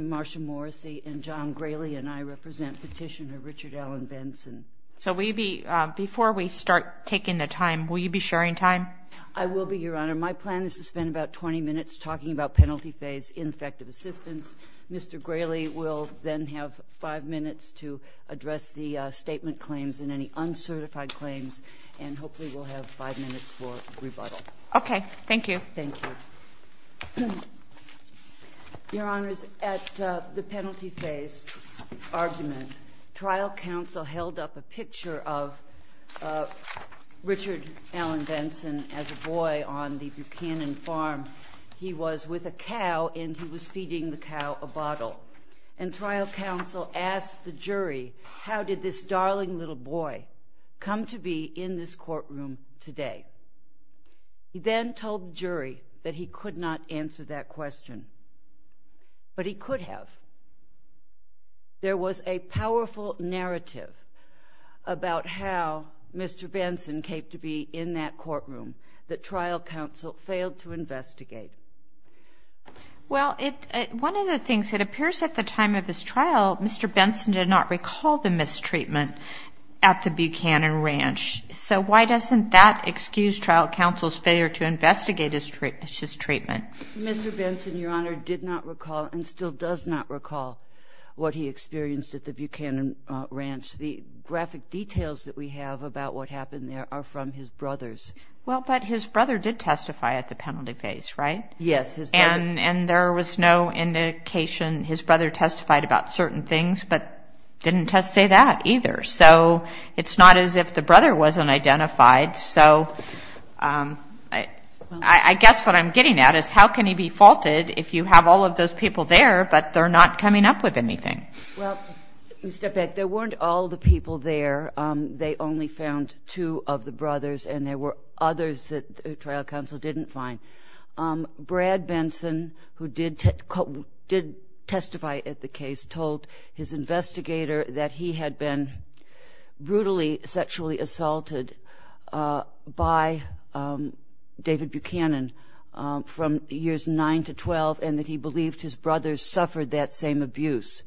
Marcia Morrissey John Grayley Richard Allen Benson Before we start taking the time, will you be sharing time? I will be, Your Honor. My plan is to spend about 20 minutes talking about penalty phase infective assistance. Mr. Grayley will then have five minutes to address the statement claims and any uncertified claims, and hopefully we'll have five minutes for rebuttal. Okay. Thank you. Thank you. Your Honor, at the penalty phase argument, trial counsel held up a picture of Richard Allen Benson as a boy on the Buchanan farm. He was with a cow, and he was feeding the cow a bottle. And trial counsel asked the jury, how did this darling little boy come to be in this courtroom today? He then told the jury that he could not answer that question, but he could have. There was a powerful narrative about how Mr. Benson came to be in that courtroom that trial counsel failed to investigate. Well, one of the things that appears at the time of this trial, Mr. Benson did not recall the mistreatment at the Buchanan ranch. So why doesn't that excuse trial counsel's failure to investigate his treatment? Mr. Benson, Your Honor, did not recall and still does not recall what he experienced at the Buchanan ranch. The graphic details that we have about what happened there are from his brothers. Well, but his brother did testify at the penalty phase, right? Yes. And there was no indication his brother testified about certain things, but he didn't testify that either. So it's not as if the brother wasn't identified. So I guess what I'm getting at is how can he be faulted if you have all of those people there, but they're not coming up with anything? Well, if you step back, there weren't all the people there. They only found two of the Mr. Benson, who did testify at the case, told his investigator that he had been brutally sexually assaulted by David Buchanan from years 9 to 12 and that he believed his brothers suffered that same abuse.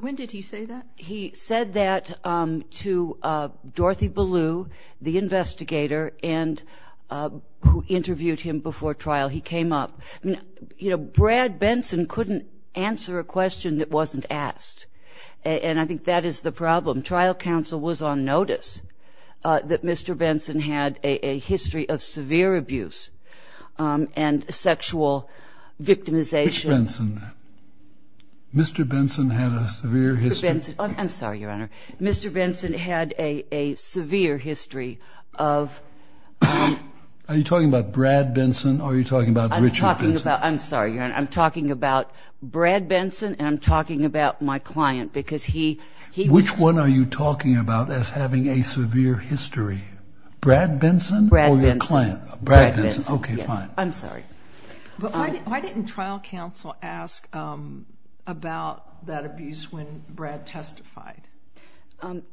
When did he say that? He said that to Dorothy Ballou, the investigator, who interviewed him before trial. He came up. Brad Benson couldn't answer a question that wasn't asked, and I think that is the problem. Trial counsel was on notice that Mr. Benson had a history of severe abuse and sexual victimization. Rich Benson. Mr. Benson had a severe history. I'm sorry, Your Honor. Mr. Benson had a severe history of... Are you talking about Brad Benson or are you talking about Richard Benson? I'm talking about... I'm sorry, Your Honor. I'm talking about Brad Benson and I'm talking about my client because he... Which one are you talking about as having a severe history? Brad Benson or your client? Brad Benson. Brad Benson. Okay, fine. I'm sorry. Why didn't trial counsel ask about that abuse when Brad testified?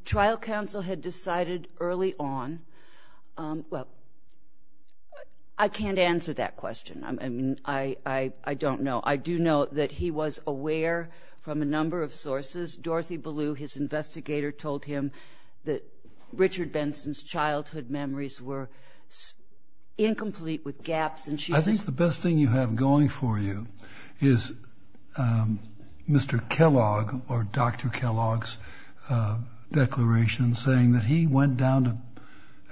Trial counsel had decided early on... Well, I can't answer that question. I don't know. I do know that he was aware from a number of sources. Dorothy Ballou, his investigator, told him that Richard Benson's childhood memories were incomplete with gaps and she... The best thing you have going for you is Mr. Kellogg or Dr. Kellogg's declaration saying that he went down to,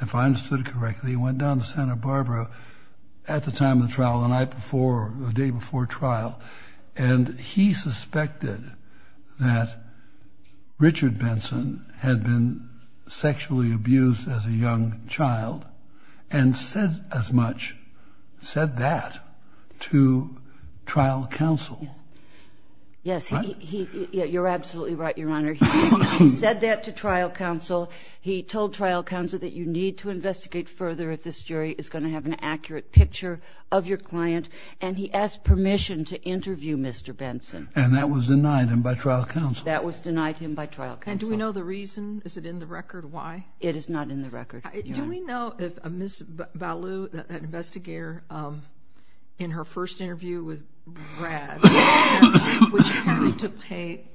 if I understood it correctly, he went down to Santa Barbara at the time of the trial, the night before or the day before trial, and he suspected that Richard Benson had been sexually abused as a young child and said as much, said that to trial counsel. Yes, you're absolutely right, Your Honor. He said that to trial counsel. He told trial counsel that you need to investigate further if this jury is going to have an accurate picture of your client and he asked permission to interview Mr. Benson. And that was denied him by trial counsel. That was denied him by trial counsel. And do we know the reason? Is it in the record? Why? It is not in the record, Your Honor. Do we know, as Ms. Ballou, the investigator, in her first interview with Brad, which took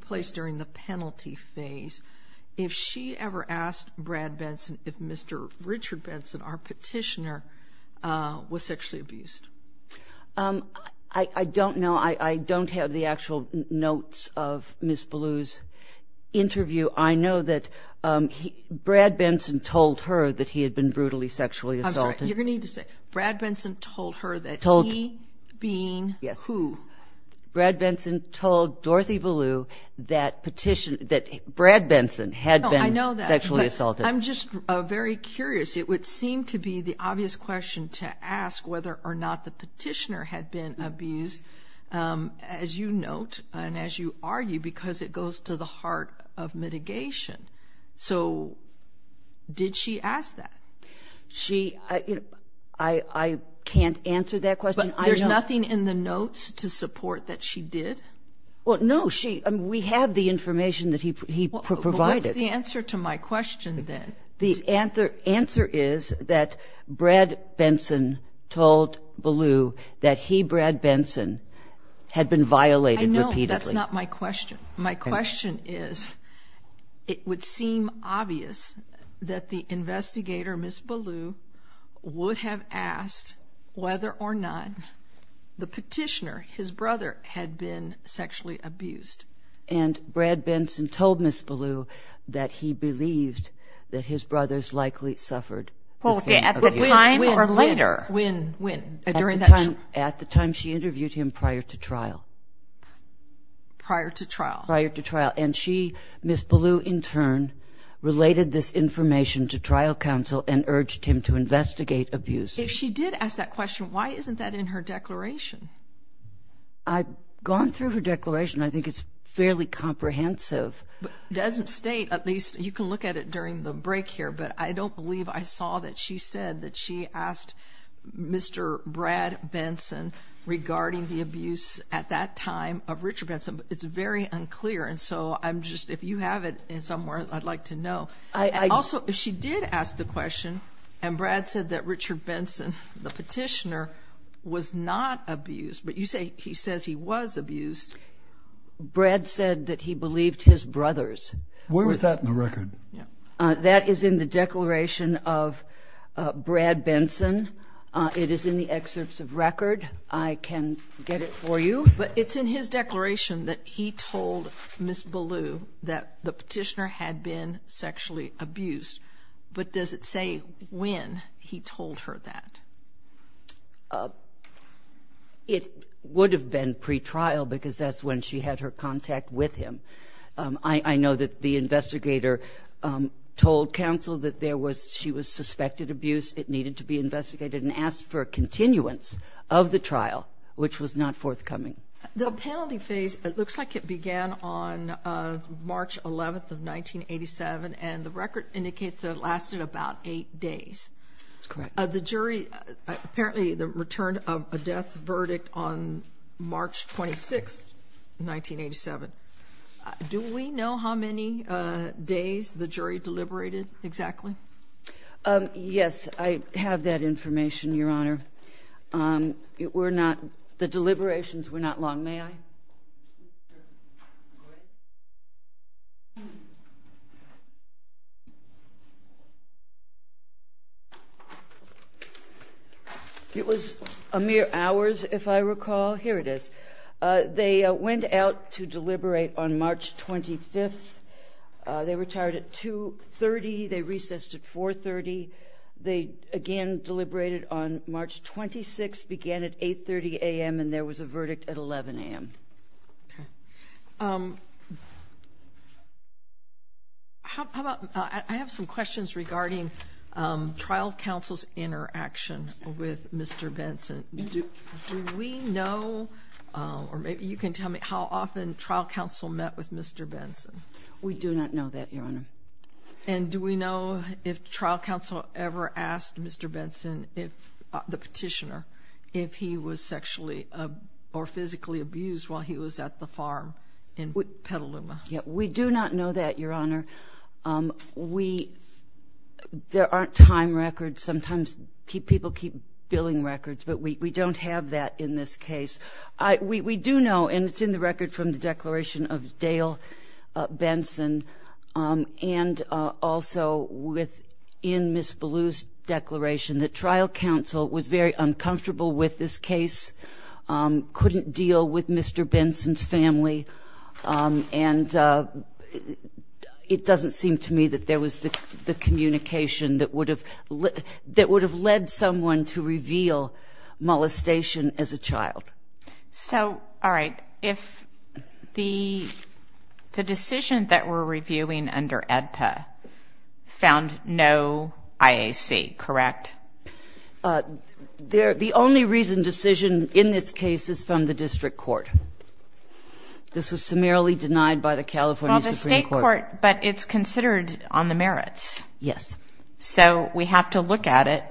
place during the penalty phase, if she ever asked Brad Benson if Mr. Richard Benson, our petitioner, was sexually abused? I don't know. I don't have the actual notes of Ms. Ballou's interview. I know that Brad Benson told her that he had been brutally sexually assaulted. I'm sorry. You're going to need to say, Brad Benson told her that he, being who? Brad Benson told Dorothy Ballou that Brad Benson had been sexually assaulted. I'm just very curious. It would seem to be the obvious question to ask whether or not the petitioner had been abused, as you note and as you argue, because it goes to the heart of mitigation. So did she ask that? I can't answer that question. But there's nothing in the notes to support that she did? Well, no. We have the information that he provided. What's the answer to my question, then? The answer is that Brad Benson told Ballou that he, Brad Benson, had been violated repeatedly. No, that's not my question. My question is, it would seem obvious that the investigator, Ms. Ballou, would have asked whether or not the petitioner, his brother, had been sexually abused. And Brad Benson told Ms. Ballou that he believed that his brothers likely suffered. At the time or later? At the time she interviewed him prior to trial. Prior to trial. Prior to trial. And she, Ms. Ballou, in turn, related this information to trial counsel and urged him to investigate abuse. If she did ask that question, why isn't that in her declaration? I've gone through her declaration. I think it's fairly comprehensive. It doesn't state, at least you can look at it during the break here, but I don't believe I saw that she said that she asked Mr. Brad Benson regarding the abuse at that time of Richard Benson. It's very unclear. And so I'm just, if you have it somewhere, I'd like to know. Also, she did ask the question, and Brad said that Richard Benson, the petitioner, was not abused. But you say he says he was abused. Brad said that he believed his brothers. Where is that in the record? That is in the declaration of Brad Benson. It is in the excerpts of record. I can get it for you. But it's in his declaration that he told Ms. Ballou that the petitioner had been sexually abused. But does it say when he told her that? It would have been pretrial because that's when she had her contact with him. I know that the investigator told counsel that there was, she was suspected of abuse that needed to be investigated and asked for a continuance of the trial, which was not forthcoming. The penalty phase, it looks like it began on March 11th of 1987, and the record indicates that it lasted about eight days. That's correct. The jury, apparently the return of a death verdict on March 26th, 1987. Do we know how many days the jury deliberated exactly? Yes, I have that information, Your Honor. The deliberations were not long. May I? It was a mere hour if I recall. Here it is. They went out to deliberate on March 25th. They retired at 2.30. They recessed at 4.30. They again deliberated on March 26th, began at 8.30 a.m., and there was a verdict at 11 a.m. I have some questions regarding trial counsel's interaction with Mr. Benson. Do we know, or maybe you can tell me, how often trial counsel met with Mr. Benson? We do not know that, Your Honor. And do we know if trial counsel ever asked Mr. Benson, the petitioner, if he was sexually or physically abused while he was at the farm in Petaluma? We do not know that, Your Honor. There aren't time records. Sometimes people keep billing records, but we don't have that in this case. We do know, and it's in the record from the declaration of Dale Benson and also within Ms. Ballou's declaration, that trial counsel was very uncomfortable with this case, couldn't deal with Mr. Benson's family, and it doesn't seem to me that there was the communication that would have led someone to reveal molestation as a child. So, all right, if the decision that we're reviewing under EDTA found no IAC, correct? The only reason decision in this case is from the district court. This was summarily denied by the California Supreme Court. From the state court, but it's considered on the merits. Yes. So we have to look at it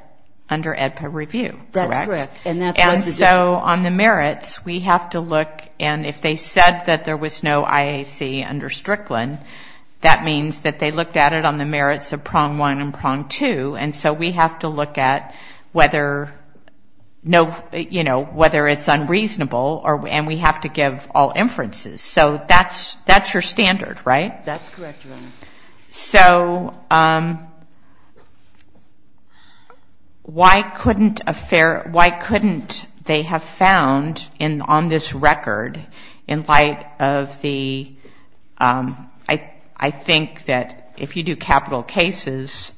under EDTA review, correct? That's correct. And so on the merits, we have to look, and if they said that there was no IAC under Strickland, that means that they looked at it on the merits of prong one and prong two, and so we have to look at whether it's unreasonable, and we have to give all inferences. So that's your standard, right? That's correct. So, why couldn't they have found on this record, in light of the, I think that if you do capital cases,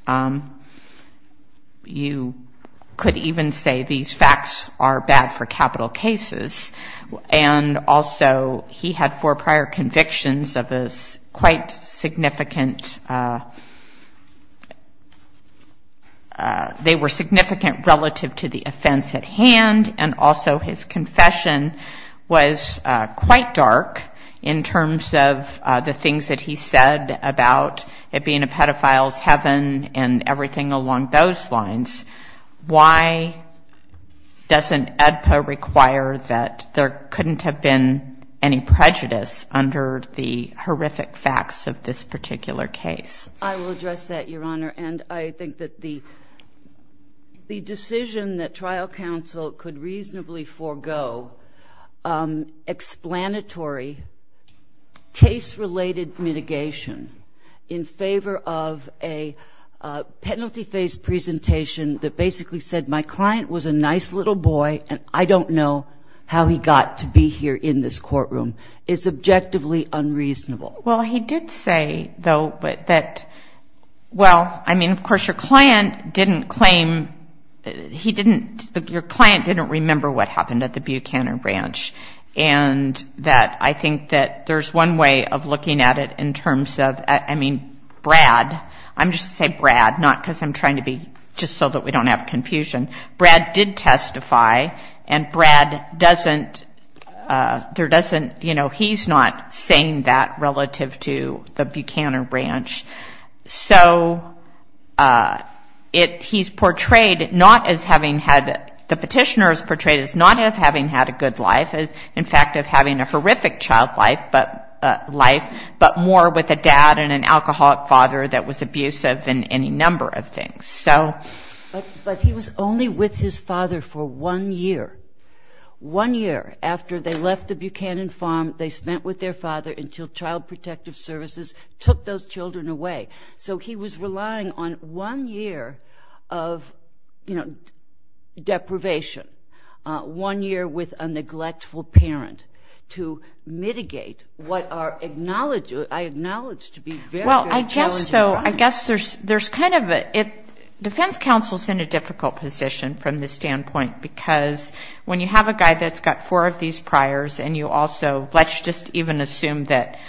you could even say these facts are bad for capital cases, and also he had four prior convictions of quite significant, they were significant relative to the offense at hand, and also his confession was quite dark in terms of the things that he said about it being a pedophile's heaven and everything along those lines. Why doesn't EDPA require that there couldn't have been any prejudice under the horrific facts of this particular case? I will address that, Your Honor, and I think that the decision that trial counsel could reasonably forego explanatory case-related mitigation in favor of a penalty-based presentation that basically said, my client was a nice little boy, and I don't know how he got to be here in this courtroom, is objectively unreasonable. Well, he did say, though, that, well, I mean, of course, your client didn't claim, he didn't, your client didn't remember what happened at the Buchanan Ranch, and that I think that there's one way of looking at it in terms of, I mean, Brad, I'm just going to say Brad, not because I'm trying to be, just so that we don't have confusion, Brad did testify, and Brad doesn't, there doesn't, you know, he's not saying that relative to the Buchanan Ranch. So he's portrayed not as having had, the petitioner is portrayed as not as having had a good life, in fact, as having a horrific child life, but more with a dad and an alcoholic father that was abusive and any number of things, so. But he was only with his father for one year. One year after they left the Buchanan Farm, they spent with their father until Child Protective Services took those children away. So he was relying on one year of, you know, deprivation, one year with a neglectful parent, to mitigate what are acknowledged to be very, very challenging times. Well, I guess so, I guess there's kind of a, defense counsel's in a difficult position from this standpoint because when you have a guy that's got four of these priors and you also, let's just even assume that,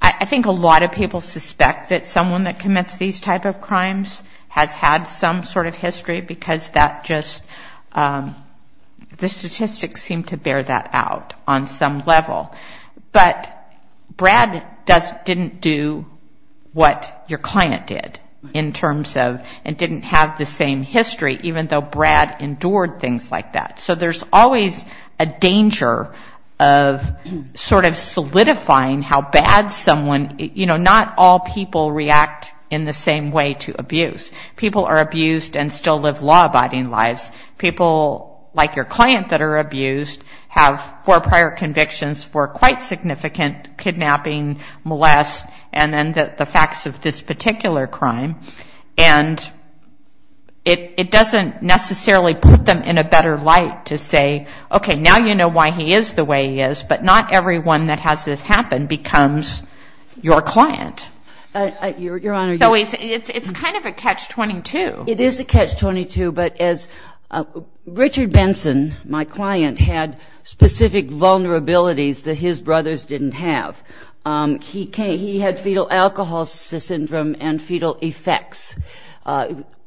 I think a lot of people suspect that someone that commits these type of crimes has had some sort of history because that just, the statistics seem to bear that out on some level. But Brad doesn't, didn't do what your client did in terms of, and didn't have the same history, even though Brad endured things like that. So there's always a danger of sort of solidifying how bad someone, you know, not all people react in the same way to abuse. People are abused and still live law-abiding lives. People like your client that are abused have four prior convictions for quite significant kidnapping, molest, and then the facts of this particular crime. And it doesn't necessarily put them in a better light to say, okay, now you know why he is the way he is, but not everyone that has this happen becomes your client. So it's kind of a catch-22. It is a catch-22, but as Richard Benson, my client, had specific vulnerabilities that his brothers didn't have. He had fetal alcohol syndrome and fetal effects.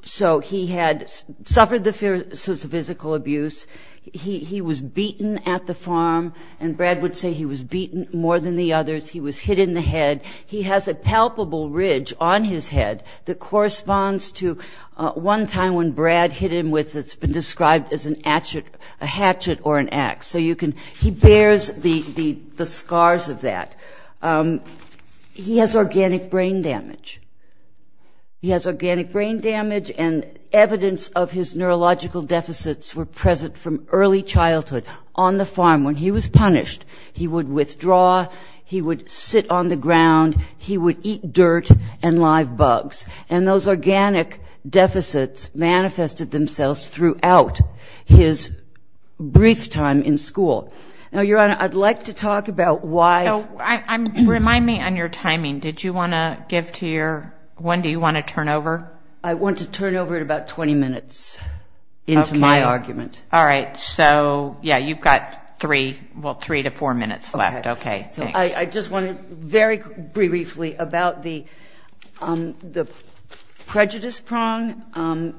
So he had suffered the physical abuse. He was beaten at the farm, and Brad would say he was beaten more than the others. He was hit in the head. He has a palpable ridge on his head that corresponds to one time when Brad hit him with what's been described as an hatchet or an ax. He bears the scars of that. He has organic brain damage. He has organic brain damage, and evidence of his neurological deficits were present from early childhood on the farm. When he was punished, he would withdraw. He would sit on the ground. He would eat dirt and live bugs. And those organic deficits manifested themselves throughout his brief time in school. Now, Your Honor, I'd like to talk about why. Remind me on your timing. Did you want to give to your one? Do you want to turn over? I want to turn over in about 20 minutes into my argument. Okay. All right. Okay. I just want to very briefly about the prejudice prong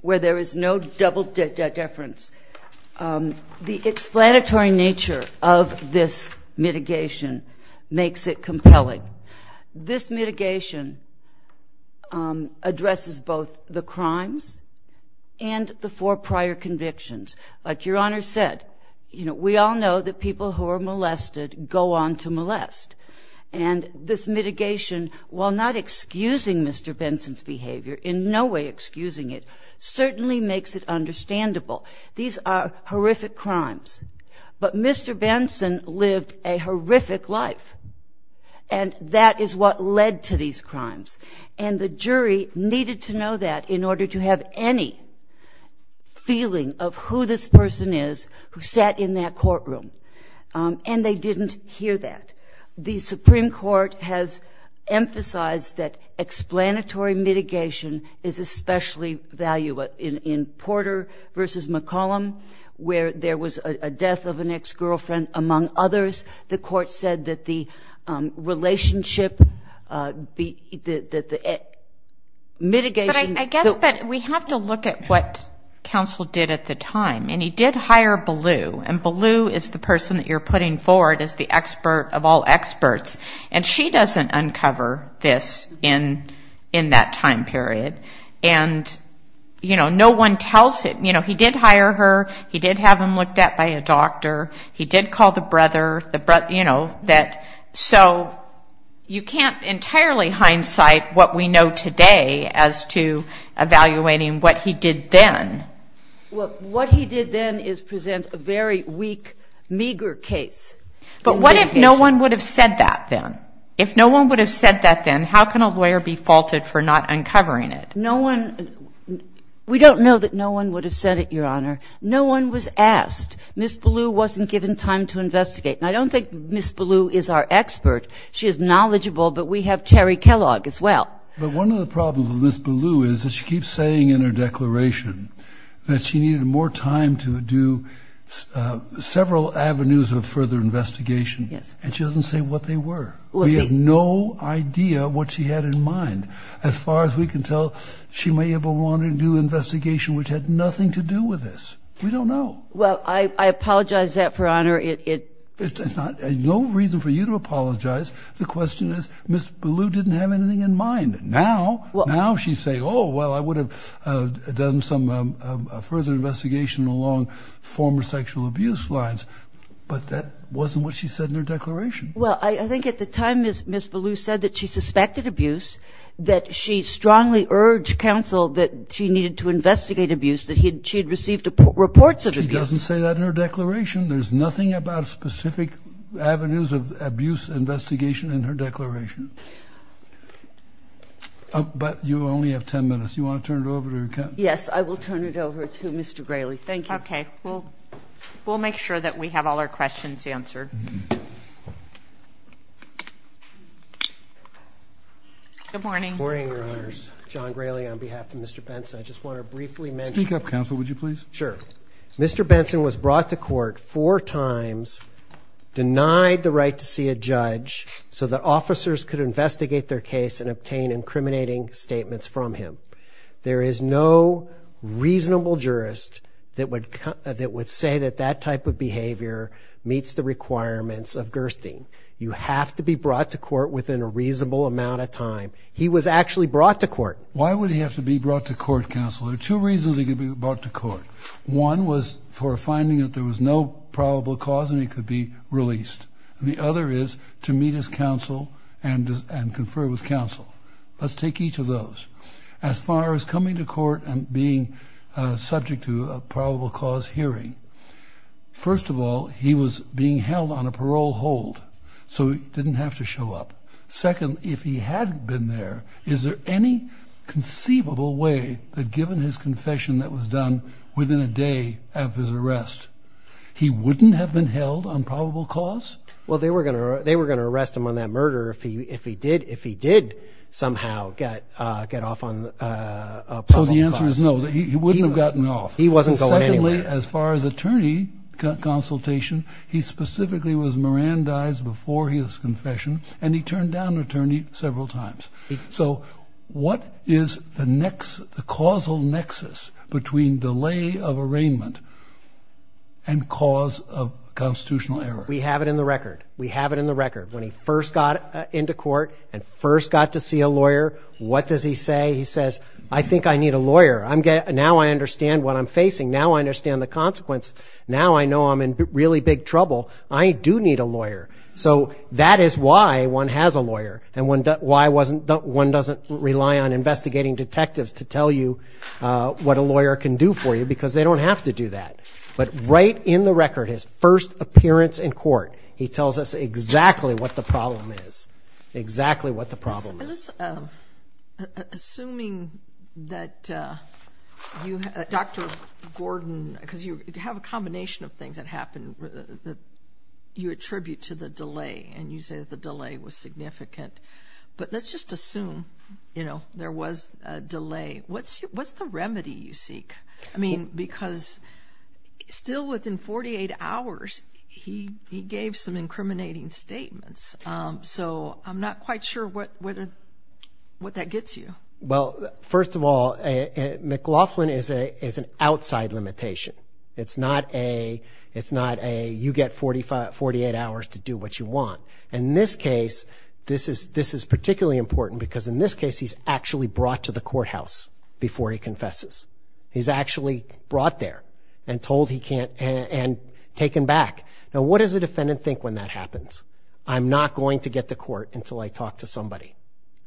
where there is no double deference. The explanatory nature of this mitigation makes it compelling. This mitigation addresses both the crimes and the four prior convictions. But Your Honor said, you know, we all know that people who are molested go on to molest. And this mitigation, while not excusing Mr. Benson's behavior, in no way excusing it, certainly makes it understandable. These are horrific crimes. But Mr. Benson lived a horrific life, and that is what led to these crimes. And the jury needed to know that in order to have any feeling of who this person is who sat in that courtroom. And they didn't hear that. The Supreme Court has emphasized that explanatory mitigation is especially valuable. In Porter v. McCollum, where there was a death of an ex-girlfriend, among others, the court said that the relationship, the mitigation. But I guess that we have to look at what counsel did at the time. And he did hire Ballou. And Ballou is the person that you're putting forward as the expert of all experts. And she doesn't uncover this in that time period. And, you know, no one tells it. You know, he did hire her. He did have them looked at by a doctor. He did call the brother. You know, so you can't entirely hindsight what we know today as to evaluating what he did then. Look, what he did then is present a very weak, meager case. But what if no one would have said that then? If no one would have said that then, how can a lawyer be faulted for not uncovering it? No one, we don't know that no one would have said it, Your Honor. No one was asked. Ms. Ballou wasn't given time to investigate. And I don't think Ms. Ballou is our expert. She is knowledgeable, but we have Terry Kellogg as well. But one of the problems with Ms. Ballou is that she keeps saying in her declaration that she needed more time to do several avenues of further investigation. And she doesn't say what they were. We have no idea what she had in mind as far as we can tell. She may have wanted to do an investigation which had nothing to do with this. We don't know. Well, I apologize for that, Your Honor. There's no reason for you to apologize. The question is Ms. Ballou didn't have anything in mind. Now she's saying, oh, well, I would have done some further investigation along former sexual abuse lines. But that wasn't what she said in her declaration. Well, I think at the time Ms. Ballou said that she suspected abuse, that she strongly urged counsel that she needed to investigate abuse, that she had received reports of abuse. She doesn't say that in her declaration. There's nothing about specific avenues of abuse investigation in her declaration. But you only have 10 minutes. Do you want to turn it over to her? Yes, I will turn it over to Mr. Grayley. Thank you. Okay. We'll make sure that we have all our questions answered. Good morning. Good morning, Your Honors. John Grayley on behalf of Mr. Pence. I just want to briefly mention. Speak up, counsel, would you please? Sure. Mr. Benson was brought to court four times, denied the right to see a judge so that officers could investigate their case and obtain incriminating statements from him. There is no reasonable jurist that would say that that type of behavior meets the requirements of Gerstein. You have to be brought to court within a reasonable amount of time. He was actually brought to court. Why would he have to be brought to court, counsel? There are two reasons he could be brought to court. One was for finding that there was no probable cause and he could be released. The other is to meet his counsel and confer with counsel. Let's take each of those. As far as coming to court and being subject to a probable cause hearing, first of all, he was being held on a parole hold so he didn't have to show up. Second, if he had been there, is there any conceivable way that given his confession that was done within a day of his arrest, he wouldn't have been held on probable cause? Well, they were going to arrest him on that murder if he did somehow get off on a probable cause. So the answer is no, he wouldn't have gotten off. He wasn't going anywhere. As far as attorney consultation, he specifically was Mirandized before his confession and he turned down attorney several times. So what is the causal nexus between delay of arraignment and cause of constitutional error? We have it in the record. We have it in the record. When he first got into court and first got to see a lawyer, what does he say? He says, I think I need a lawyer. Now I understand what I'm facing. Now I understand the consequence. Now I know I'm in really big trouble. I do need a lawyer. So that is why one has a lawyer and one doesn't rely on investigating detectives to tell you what a lawyer can do for you because they don't have to do that. But right in the record, his first appearance in court, he tells us exactly what the problem is, exactly what the problem is. Assuming that Dr. Gordon, because you have a combination of things that happened that you attribute to the delay and you say the delay was significant. But let's just assume there was a delay. What's the remedy you seek? I mean, because still within 48 hours, he gave some incriminating statements. So I'm not quite sure what that gets you. Well, first of all, McLaughlin is an outside limitation. It's not a you get 48 hours to do what you want. In this case, this is particularly important because in this case, he's actually brought to the courthouse before he confesses. He's actually brought there and told he can't and taken back. Now, what does the defendant think when that happens? I'm not going to get to court until I talk to somebody.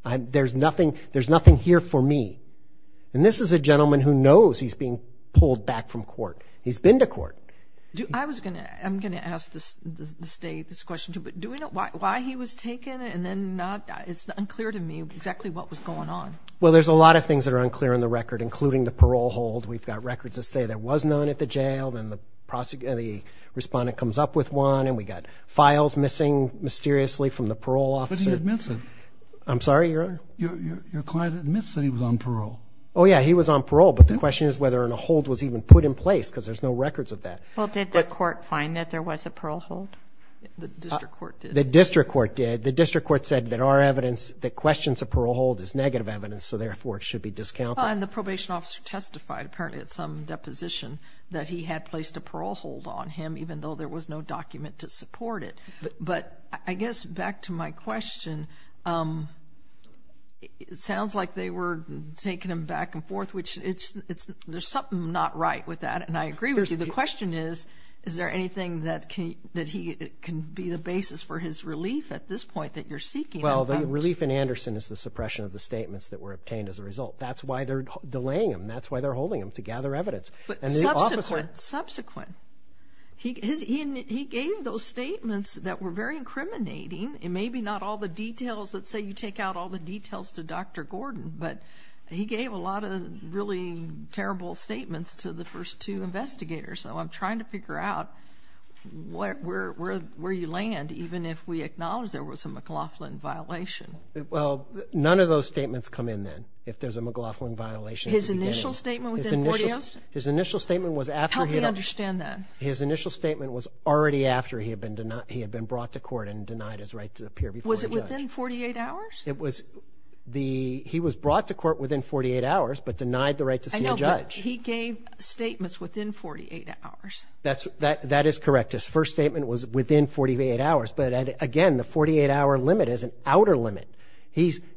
There's nothing here for me. And this is a gentleman who knows he's being pulled back from court. He's been to court. I'm going to ask the state this question, too. But do we know why he was taken? And then it's unclear to me exactly what was going on. Well, there's a lot of things that are unclear in the record, including the parole hold. We've got records that say there was none at the jail. And the respondent comes up with one. And we've got files missing mysteriously from the parole officer. But he admits it. I'm sorry? Your client admits that he was on parole. Oh, yeah, he was on parole. But the question is whether a hold was even put in place because there's no records of that. Well, did the court find that there was a parole hold? The district court did. The district court did. The district court said that our evidence that questions a parole hold is negative evidence, so therefore it should be discounted. At the time, the probation officer testified, apparently at some deposition, that he had placed a parole hold on him even though there was no document to support it. But I guess back to my question, it sounds like they were taking him back and forth, which there's something not right with that. And I agree with you. The question is, is there anything that can be the basis for his relief at this point that you're seeking? Well, the relief in Anderson is the suppression of the statements that were obtained as a result. That's why they're delaying them. That's why they're holding them, to gather evidence. Subsequent. Subsequent. He gave those statements that were very incriminating, and maybe not all the details. Let's say you take out all the details to Dr. Gordon, but he gave a lot of really terrible statements to the first two investigators. So I'm trying to figure out where you land, even if we acknowledge there was a McLaughlin violation. Well, none of those statements come in then, if there's a McLaughlin violation. His initial statement within 48 hours? His initial statement was after he had. How do you understand that? His initial statement was already after he had been brought to court and denied his right to appear before the judge. Was it within 48 hours? He was brought to court within 48 hours but denied the right to see a judge. I know, but he gave statements within 48 hours. That is correct. His first statement was within 48 hours, but, again, the 48-hour limit is an outer limit.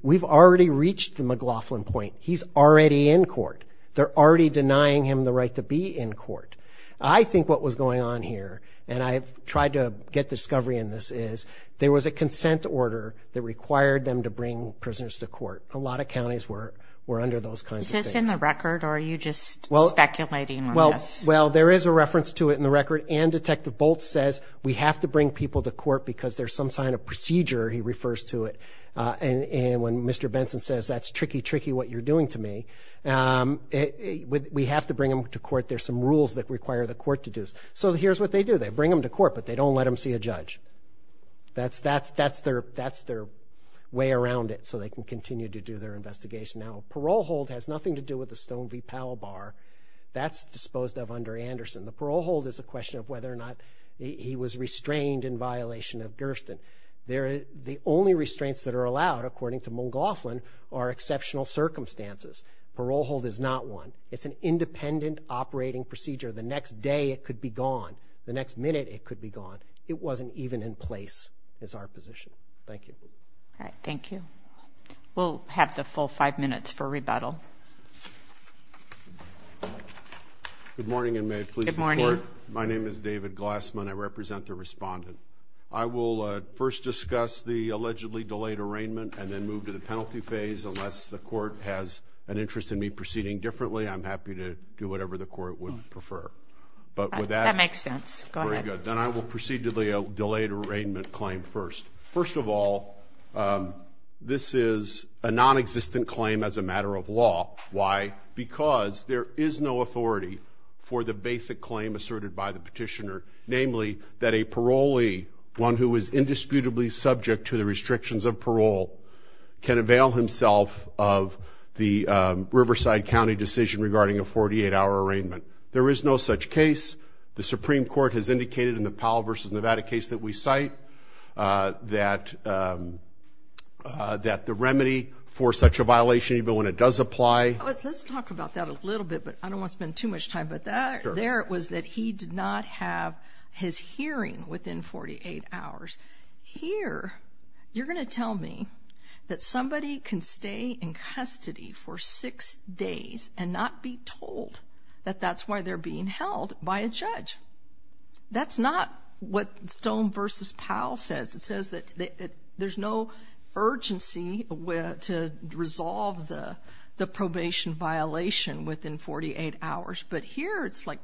We've already reached the McLaughlin point. He's already in court. They're already denying him the right to be in court. I think what was going on here, and I tried to get discovery in this, is there was a consent order that required them to bring prisoners to court. A lot of counties were under those kinds of things. Is this in the record, or are you just speculating on this? Well, there is a reference to it in the record, and Detective Boltz says we have to bring people to court because there's some kind of procedure, he refers to it. And when Mr. Benson says that's tricky, tricky what you're doing to me, we have to bring them to court. There's some rules that require the court to do this. So here's what they do. They bring them to court, but they don't let them see a judge. That's their way around it so they can continue to do their investigation. Now, parole hold has nothing to do with the Stone v. Palabar. That's disposed of under Anderson. The parole hold is a question of whether or not he was restrained in violation of Durston. The only restraints that are allowed, according to McGoughlin, are exceptional circumstances. Parole hold is not one. It's an independent operating procedure. The next day it could be gone. The next minute it could be gone. It wasn't even in place as our position. Thank you. All right, thank you. We'll have the full five minutes for rebuttal. Good morning, and may I please report? Good morning. My name is David Glassman. I represent the respondent. I will first discuss the allegedly delayed arraignment and then move to the penalty phase. Unless the court has an interest in me proceeding differently, I'm happy to do whatever the court would prefer. That makes sense. Go ahead. Then I will proceed to the delayed arraignment claim first. First of all, this is a nonexistent claim as a matter of law. Why? Because there is no authority for the basic claim asserted by the petitioner, namely that a parolee, one who is indisputably subject to the restrictions of parole, can avail himself of the Riverside County decision regarding a 48-hour arraignment. There is no such case. The Supreme Court has indicated in the Powell v. Nevada case that we cite that the remedy for such a violation, even when it does apply. Let's talk about that a little bit, but I don't want to spend too much time with that. There it was that he did not have his hearing within 48 hours. Here, you're going to tell me that somebody can stay in custody for six days and not be told that that's why they're being held by a judge. That's not what Stone v. Powell says. It says that there's no urgency to resolve the probation violation within 48 hours, but here it's like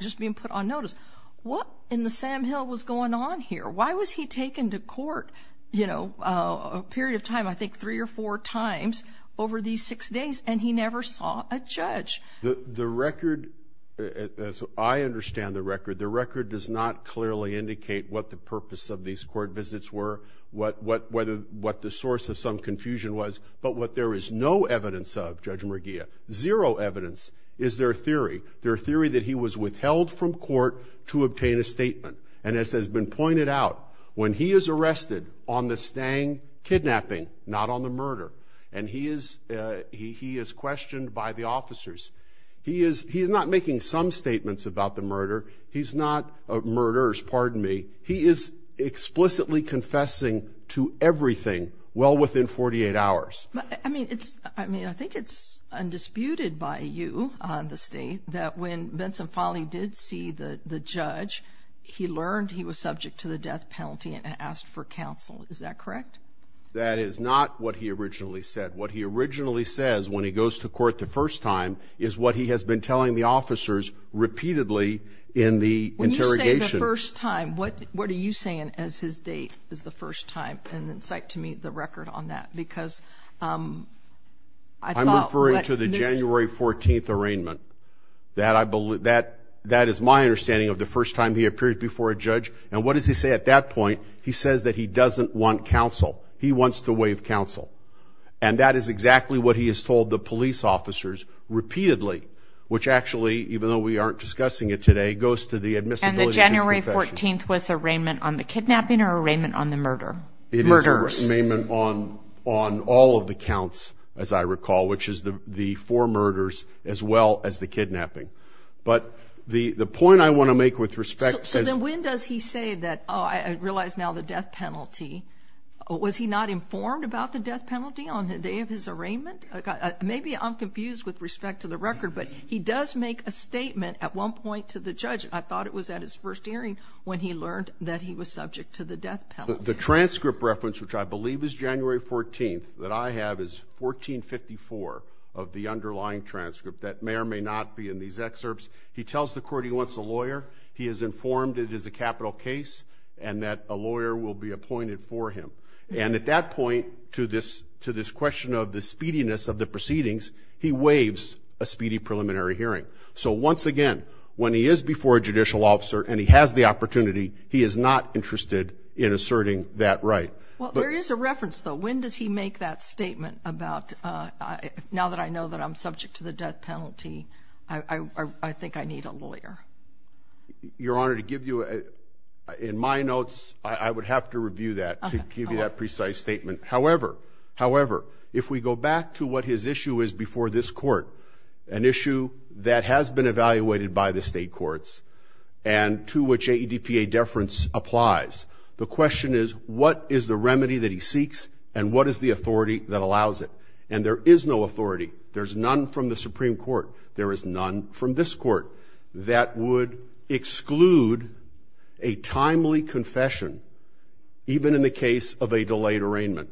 just being put on notice. What in the Sam Hill was going on here? Why was he taken to court a period of time, I think three or four times over these six days, and he never saw a judge? The record, as I understand the record, the record does not clearly indicate what the purpose of these court visits were, what the source of some confusion was. But what there is no evidence of, Judge McGeehan, zero evidence, is their theory, their theory that he was withheld from court to obtain a statement. And as has been pointed out, when he is arrested on the Stang kidnapping, not on the murder, and he is questioned by the officers. He is not making some statements about the murder. He's not murderers, pardon me. He is explicitly confessing to everything well within 48 hours. I mean, I think it's undisputed by you, the State, that when Vincent Folley did see the judge, he learned he was subject to the death penalty and asked for counsel. Is that correct? That is not what he originally said. What he originally says when he goes to court the first time is what he has been telling the officers repeatedly in the interrogation. When you say the first time, what are you saying as his date of the first time? And in fact, to me, the record on that, because I thought that's new. I'm referring to the January 14th arraignment. And what does he say at that point? He says that he doesn't want counsel. He wants to waive counsel. And that is exactly what he has told the police officers repeatedly, which actually, even though we aren't discussing it today, goes to the admissibility to confession. And the January 14th was an arraignment on the kidnapping or an arraignment on the murder? Murderers. It is an arraignment on all of the counts, as I recall, which is the four murders as well as the kidnapping. But the point I want to make with respect to the – So then when does he say that, oh, I realize now the death penalty. Was he not informed about the death penalty on the day of his arraignment? Maybe I'm confused with respect to the record, but he does make a statement at one point to the judge. I thought it was at his first hearing when he learned that he was subject to the death penalty. The transcript reference, which I believe is January 14th, that I have is 1454 of the underlying transcript. That may or may not be in these excerpts. He tells the court he wants a lawyer. He is informed it is a capital case and that a lawyer will be appointed for him. And at that point, to this question of the speediness of the proceedings, he waives a speedy preliminary hearing. So once again, when he is before a judicial officer and he has the opportunity, he is not interested in asserting that right. Well, there is a reference, though. When does he make that statement about now that I know that I'm subject to the death penalty, I think I need a lawyer. Your Honor, to give you, in my notes, I would have to review that to give you that precise statement. However, if we go back to what his issue is before this court, an issue that has been evaluated by the state courts and to which AEDPA deference applies, the question is what is the remedy that he seeks and what is the authority that allows it? And there is no authority. There's none from the Supreme Court. There is none from this court that would exclude a timely confession, even in the case of a delayed arraignment.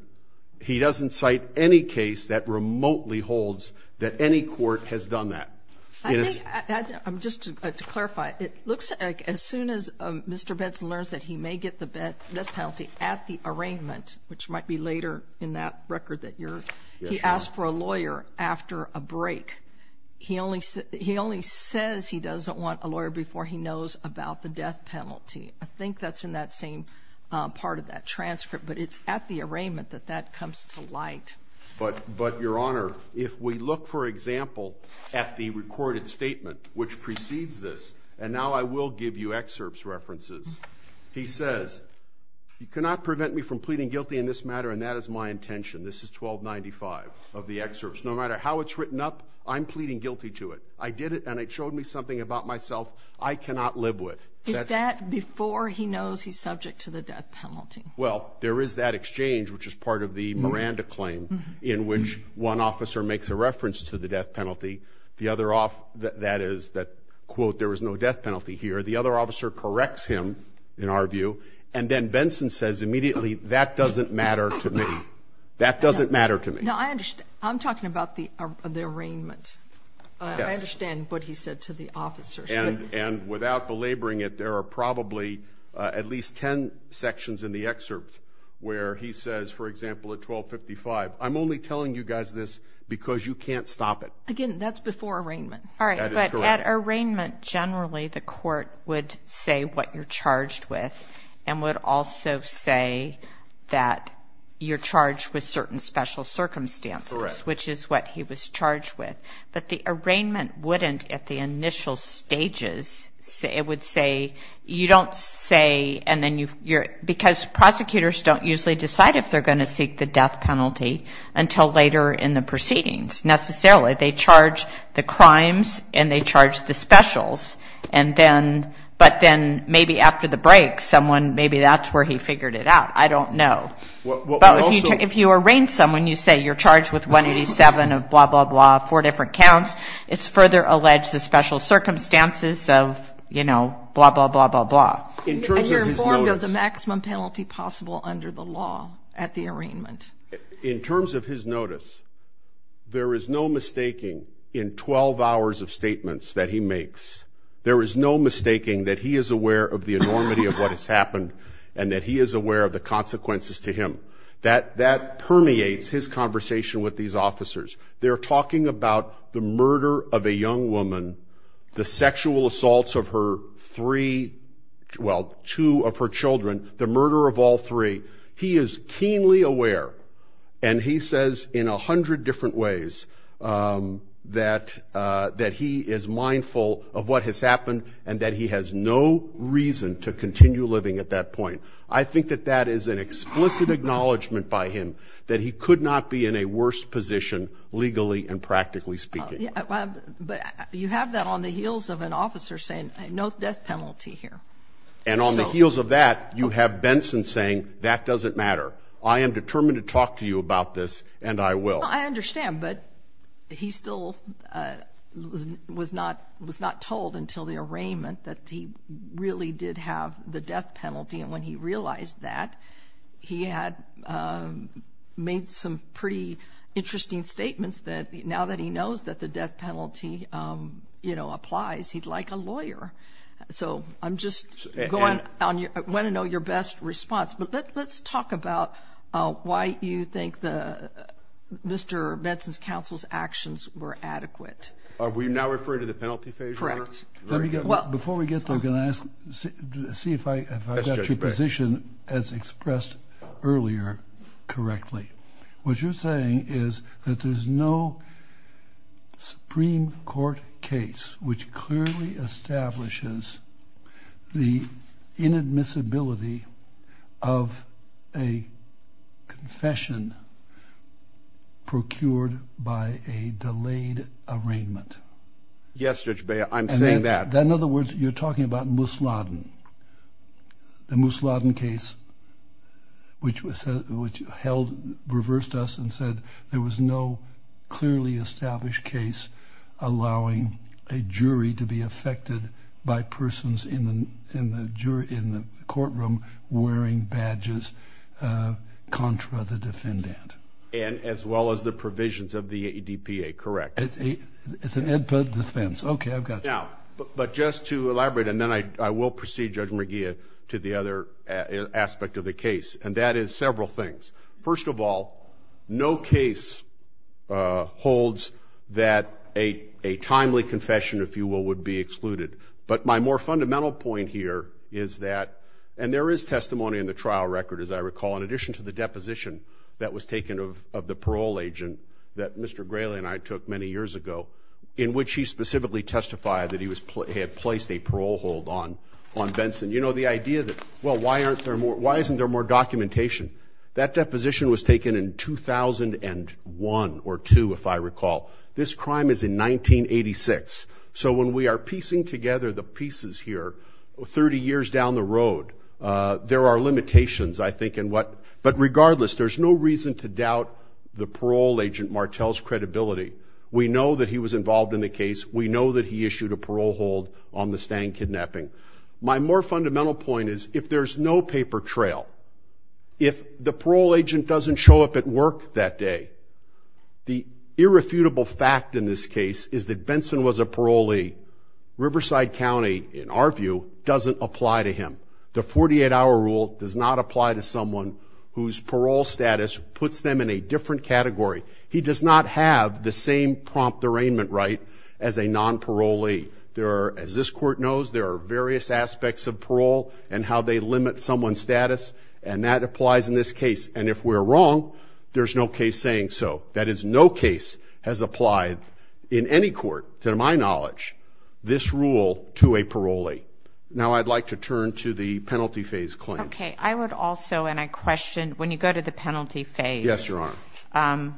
He doesn't cite any case that remotely holds that any court has done that. Just to clarify, it looks like as soon as Mr. Benson learns that he may get the death penalty at the arraignment, which might be later in that record that you're – he asks for a lawyer after a break. He only says he doesn't want a lawyer before he knows about the death penalty. I think that's in that same part of that transcript, but it's at the arraignment that that comes to light. But, Your Honor, if we look, for example, at the recorded statement which precedes this, and now I will give you excerpts, references, he says, you cannot prevent me from pleading guilty in this matter, and that is my intention. This is 1295 of the excerpts. No matter how it's written up, I'm pleading guilty to it. I did it, and it showed me something about myself I cannot live with. Is that before he knows he's subject to the death penalty? Well, there is that exchange, which is part of the Miranda claim, in which one officer makes a reference to the death penalty. The other – that is that, quote, there is no death penalty here. The other officer corrects him, in our view, and then Benson says immediately, that doesn't matter to me. That doesn't matter to me. No, I understand. I'm talking about the arraignment. I understand what he said to the officers. And without belaboring it, there are probably at least ten sections in the excerpt where he says, for example, at 1255, I'm only telling you guys this because you can't stop it. Again, that's before arraignment. All right. But at arraignment, generally, the court would say what you're charged with and would also say that you're charged with certain special circumstances, which is what he was charged with. But the arraignment wouldn't at the initial stages. It would say you don't say, and then you're – because prosecutors don't usually decide if they're going to seek the death penalty until later in the proceedings necessarily. They charge the crimes and they charge the specials. But then maybe after the break, someone – maybe that's where he figured it out. I don't know. But if you arraign someone, you say you're charged with 187 of blah, blah, blah, four different counts, it's further alleged the special circumstances of, you know, blah, blah, blah, blah, blah. And you're informed of the maximum penalty possible under the law at the arraignment. In terms of his notice, there is no mistaking in 12 hours of statements that he makes, there is no mistaking that he is aware of the enormity of what has happened and that he is aware of the consequences to him. That permeates his conversation with these officers. They're talking about the murder of a young woman, the sexual assaults of her three – well, two of her children, the murder of all three. He is keenly aware and he says in 100 different ways that he is mindful of what has happened and that he has no reason to continue living at that point. I think that that is an explicit acknowledgment by him, that he could not be in a worse position legally and practically speaking. But you have that on the heels of an officer saying no death penalty here. And on the heels of that, you have Benson saying that doesn't matter. I am determined to talk to you about this and I will. I understand, but he still was not told until the arraignment that he really did have the death penalty. And when he realized that, he had made some pretty interesting statements that now that he knows that the death penalty, you know, applies, he's like a lawyer. So I'm just going – I want to know your best response. But let's talk about why you think Mr. Benson's counsel's actions were adequate. Are we now referring to the penalty phase, Your Honor? Correct. Before we get there, I'm going to ask – see if I got your position as expressed earlier correctly. What you're saying is that there's no Supreme Court case which clearly establishes the inadmissibility of a confession procured by a delayed arraignment. Yes, Judge Beyer, I'm saying that. In other words, you're talking about Musladin, the Musladin case, which reversed us and said there was no clearly established case allowing a jury to be affected by persons in the courtroom wearing badges contra the defendant. And as well as the provisions of the ADPA, correct? It's an ADPA defense. Okay, I've got that. Now, but just to elaborate, and then I will proceed, Judge McGeehan, to the other aspect of the case, and that is several things. First of all, no case holds that a timely confession, if you will, would be excluded. But my more fundamental point here is that – and there is testimony in the trial record, as I recall, in addition to the deposition that was taken of the parole agent that Mr. Grayley and I took many years ago in which he specifically testified that he had placed a parole hold on Benson. You know, the idea that, well, why aren't there more – why isn't there more documentation? That deposition was taken in 2001 or 2, if I recall. This crime is in 1986. So when we are piecing together the pieces here, 30 years down the road, there are limitations, I think, in what – but regardless, there's no reason to doubt the parole agent Martel's credibility. We know that he was involved in the case. We know that he issued a parole hold on the Stang kidnapping. My more fundamental point is if there's no paper trail, if the parole agent doesn't show up at work that day, the irrefutable fact in this case is that Benson was a parolee. Riverside County, in our view, doesn't apply to him. The 48-hour rule does not apply to someone whose parole status puts them in a different category. He does not have the same prompt arraignment right as a non-parolee. There are – as this court knows, there are various aspects of parole and how they limit someone's status, and that applies in this case. And if we're wrong, there's no case saying so. That is, no case has applied in any court, to my knowledge, this rule to a parolee. Now I'd like to turn to the penalty phase claim. Okay. I would also – and I question – when you go to the penalty phase, Yes, Your Honor.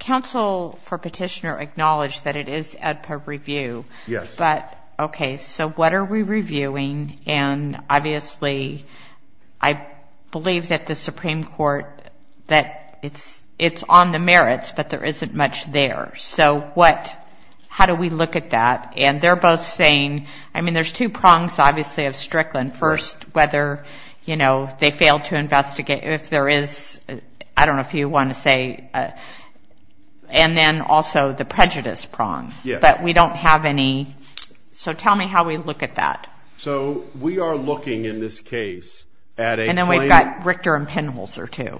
Counsel for Petitioner acknowledged that it is ed per review. Yes. But, okay, so what are we reviewing? And obviously I believe that the Supreme Court – that it's on the merits, but there isn't much there. So what – how do we look at that? And they're both saying – I mean, there's two prongs, obviously, of Strickland. First, whether, you know, they failed to investigate – if there is – I don't know if you want to say – and then also the prejudice prong. Yes. But we don't have any – so tell me how we look at that. So we are looking in this case at a claim – And then we've got Richter and Penholzer too.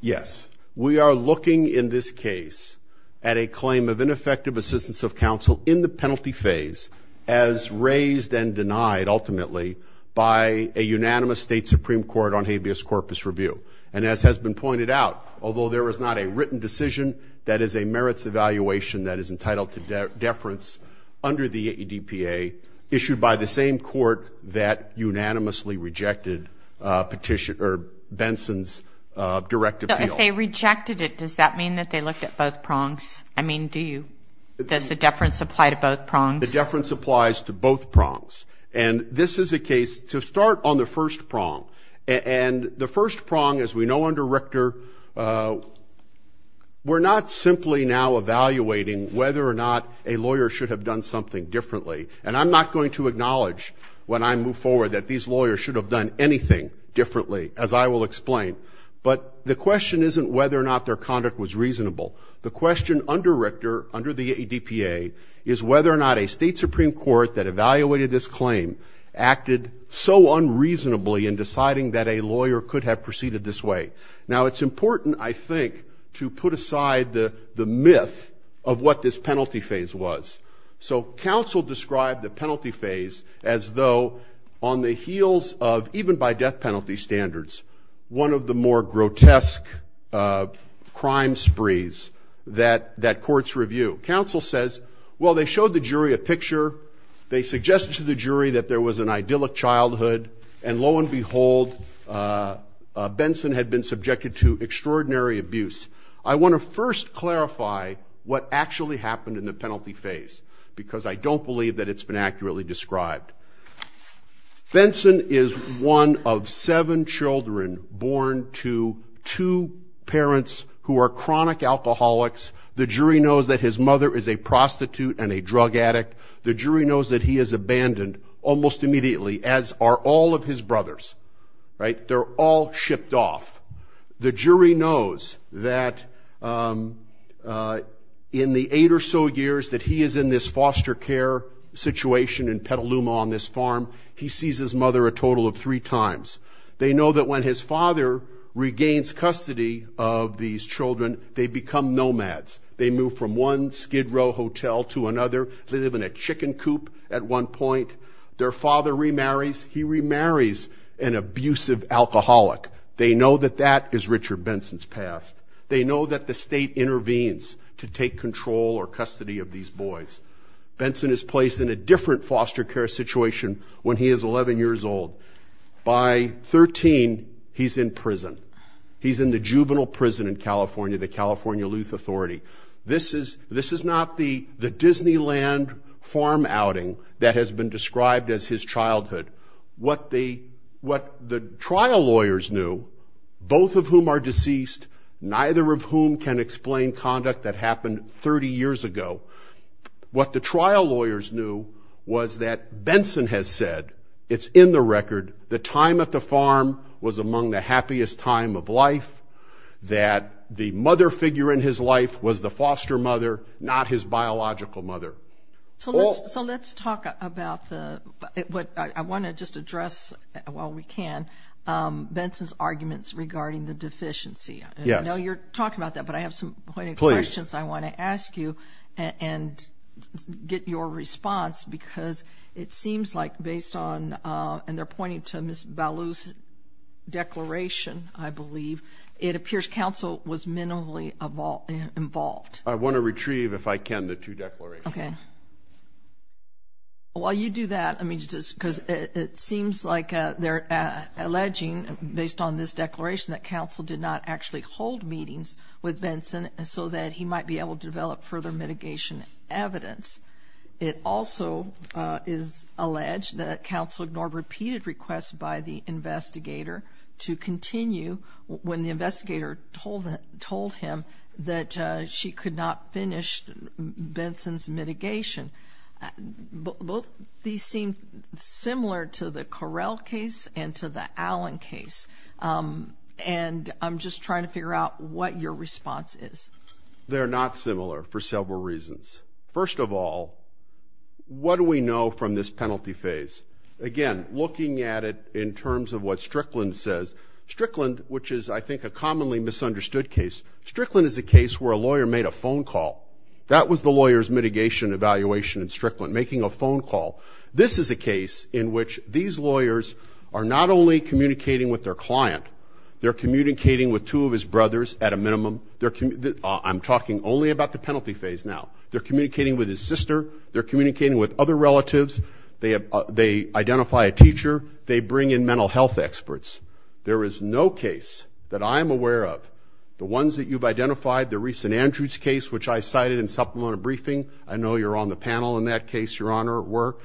Yes. We are looking in this case at a claim of ineffective assistance of counsel in the penalty phase as raised and denied, ultimately, by a unanimous State Supreme Court on habeas corpus review. And as has been pointed out, although there is not a written decision, that is a merits evaluation that is entitled to deference under the ADPA issued by the same court that unanimously rejected Benson's direct appeal. So if they rejected it, does that mean that they looked at both prongs? I mean, do you – does the deference apply to both prongs? The deference applies to both prongs. And this is a case to start on the first prong. And the first prong, as we know under Richter, we're not simply now evaluating whether or not a lawyer should have done something differently. And I'm not going to acknowledge, when I move forward, that these lawyers should have done anything differently, as I will explain. But the question isn't whether or not their conduct was reasonable. The question under Richter, under the ADPA, is whether or not a State Supreme Court that evaluated this claim acted so unreasonably in deciding that a lawyer could have proceeded this way. Now, it's important, I think, to put aside the myth of what this penalty phase was. So counsel described the penalty phase as though on the heels of, even by death penalty standards, one of the more grotesque crime sprees that courts review. Counsel says, well, they showed the jury a picture, they suggested to the jury that there was an idyllic childhood, and lo and behold, Benson had been subjected to extraordinary abuse. I want to first clarify what actually happened in the penalty phase, because I don't believe that it's been accurately described. Benson is one of seven children born to two parents who are chronic alcoholics. The jury knows that his mother is a prostitute and a drug addict. The jury knows that he is abandoned almost immediately, as are all of his brothers. They're all shipped off. The jury knows that in the eight or so years that he is in this foster care situation in Petaluma on this farm, he sees his mother a total of three times. They know that when his father regains custody of these children, they become nomads. They move from one Skid Row hotel to another. They live in a chicken coop at one point. Their father remarries. He remarries an abusive alcoholic. They know that that is Richard Benson's past. They know that the state intervenes to take control or custody of these boys. Benson is placed in a different foster care situation when he is 11 years old. By 13, he's in prison. He's in the juvenile prison in California, the California Luth Authority. This is not the Disneyland farm outing that has been described as his childhood. What the trial lawyers knew, both of whom are deceased, neither of whom can explain conduct that happened 30 years ago, what the trial lawyers knew was that Benson has said, it's in the record, the time at the farm was among the happiest time of life, that the mother figure in his life was the foster mother, not his biological mother. So let's talk about what I want to just address while we can, Benson's arguments regarding the deficiency. I know you're talking about that, but I have some questions I want to ask you and get your response because it seems like based on, and they're pointing to Ms. Ballou's declaration, I believe, it appears counsel was minimally involved. I want to retrieve, if I can, the two declarations. Okay. While you do that, I mean, just because it seems like they're alleging, based on this declaration, that counsel did not actually hold meetings with Benson so that he might be able to develop further mitigation evidence. It also is alleged that counsel ignored repeated requests by the investigator to continue when the investigator told him that she could not finish Benson's mitigation. Both these seem similar to the Correll case and to the Allen case, and I'm just trying to figure out what your response is. They're not similar for several reasons. First of all, what do we know from this penalty phase? Again, looking at it in terms of what Strickland says, Strickland, which is, I think, a commonly misunderstood case, Strickland is a case where a lawyer made a phone call. That was the lawyer's mitigation evaluation in Strickland, making a phone call. This is a case in which these lawyers are not only communicating with their client, they're communicating with two of his brothers at a minimum. I'm talking only about the penalty phase now. They're communicating with his sister. They're communicating with other relatives. They identify a teacher. They bring in mental health experts. There is no case that I'm aware of, the ones that you've identified, the recent Andrews case, which I cited in supplemental briefing. I know you're on the panel in that case, Your Honor, at work.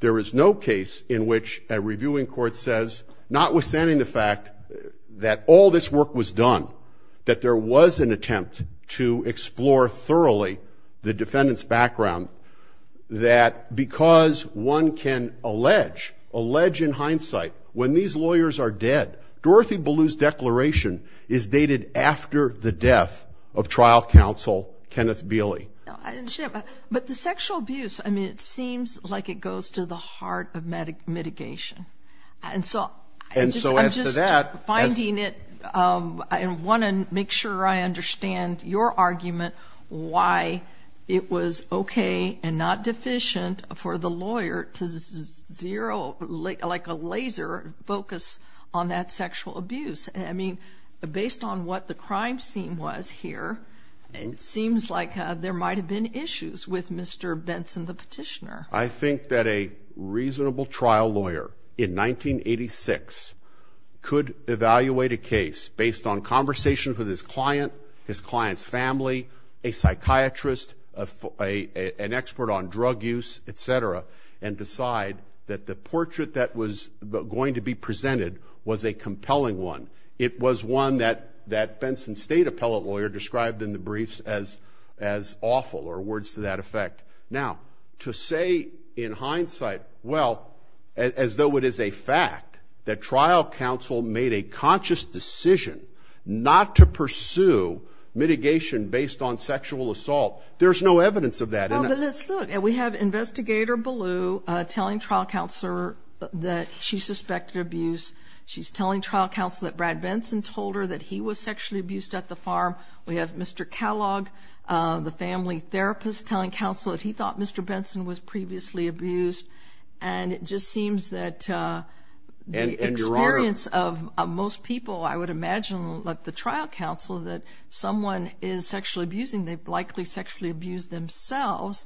There is no case in which a reviewing court says, notwithstanding the fact that all this work was done, that there was an attempt to explore thoroughly the defendant's background, that because one can allege, allege in hindsight, when these lawyers are dead, Dorothy Ballew's declaration is dated after the death of trial counsel Kenneth Beley. But the sexual abuse, I mean, it seems like it goes to the heart of mitigation. And so I'm just finding it, I want to make sure I understand your argument why it was okay and not deficient for the lawyer to zero, like a laser focus on that sexual abuse. I mean, based on what the crime scene was here, it seems like there might have been issues with Mr. Benson, the petitioner. I think that a reasonable trial lawyer in 1986 could evaluate a case based on conversations with his client, his client's family, a psychiatrist, an expert on drug use, et cetera, and decide that the portrait that was going to be presented was a compelling one. It was one that Benson's state appellate lawyer described in the briefs as awful, or words to that effect. Now, to say in hindsight, well, as though it is a fact that trial counsel made a conscious decision not to pursue mitigation based on sexual assault, there's no evidence of that, isn't there? Look, we have Investigator Ballew telling trial counsel that she suspected abuse. She's telling trial counsel that Brad Benson told her that he was sexually abused at the farm. We have Mr. Kellogg, the family therapist, telling counsel that he thought Mr. Benson was previously abused, and it just seems that the experience of most people, I would imagine, like the trial counsel, that someone is sexually abusing, they've likely sexually abused themselves,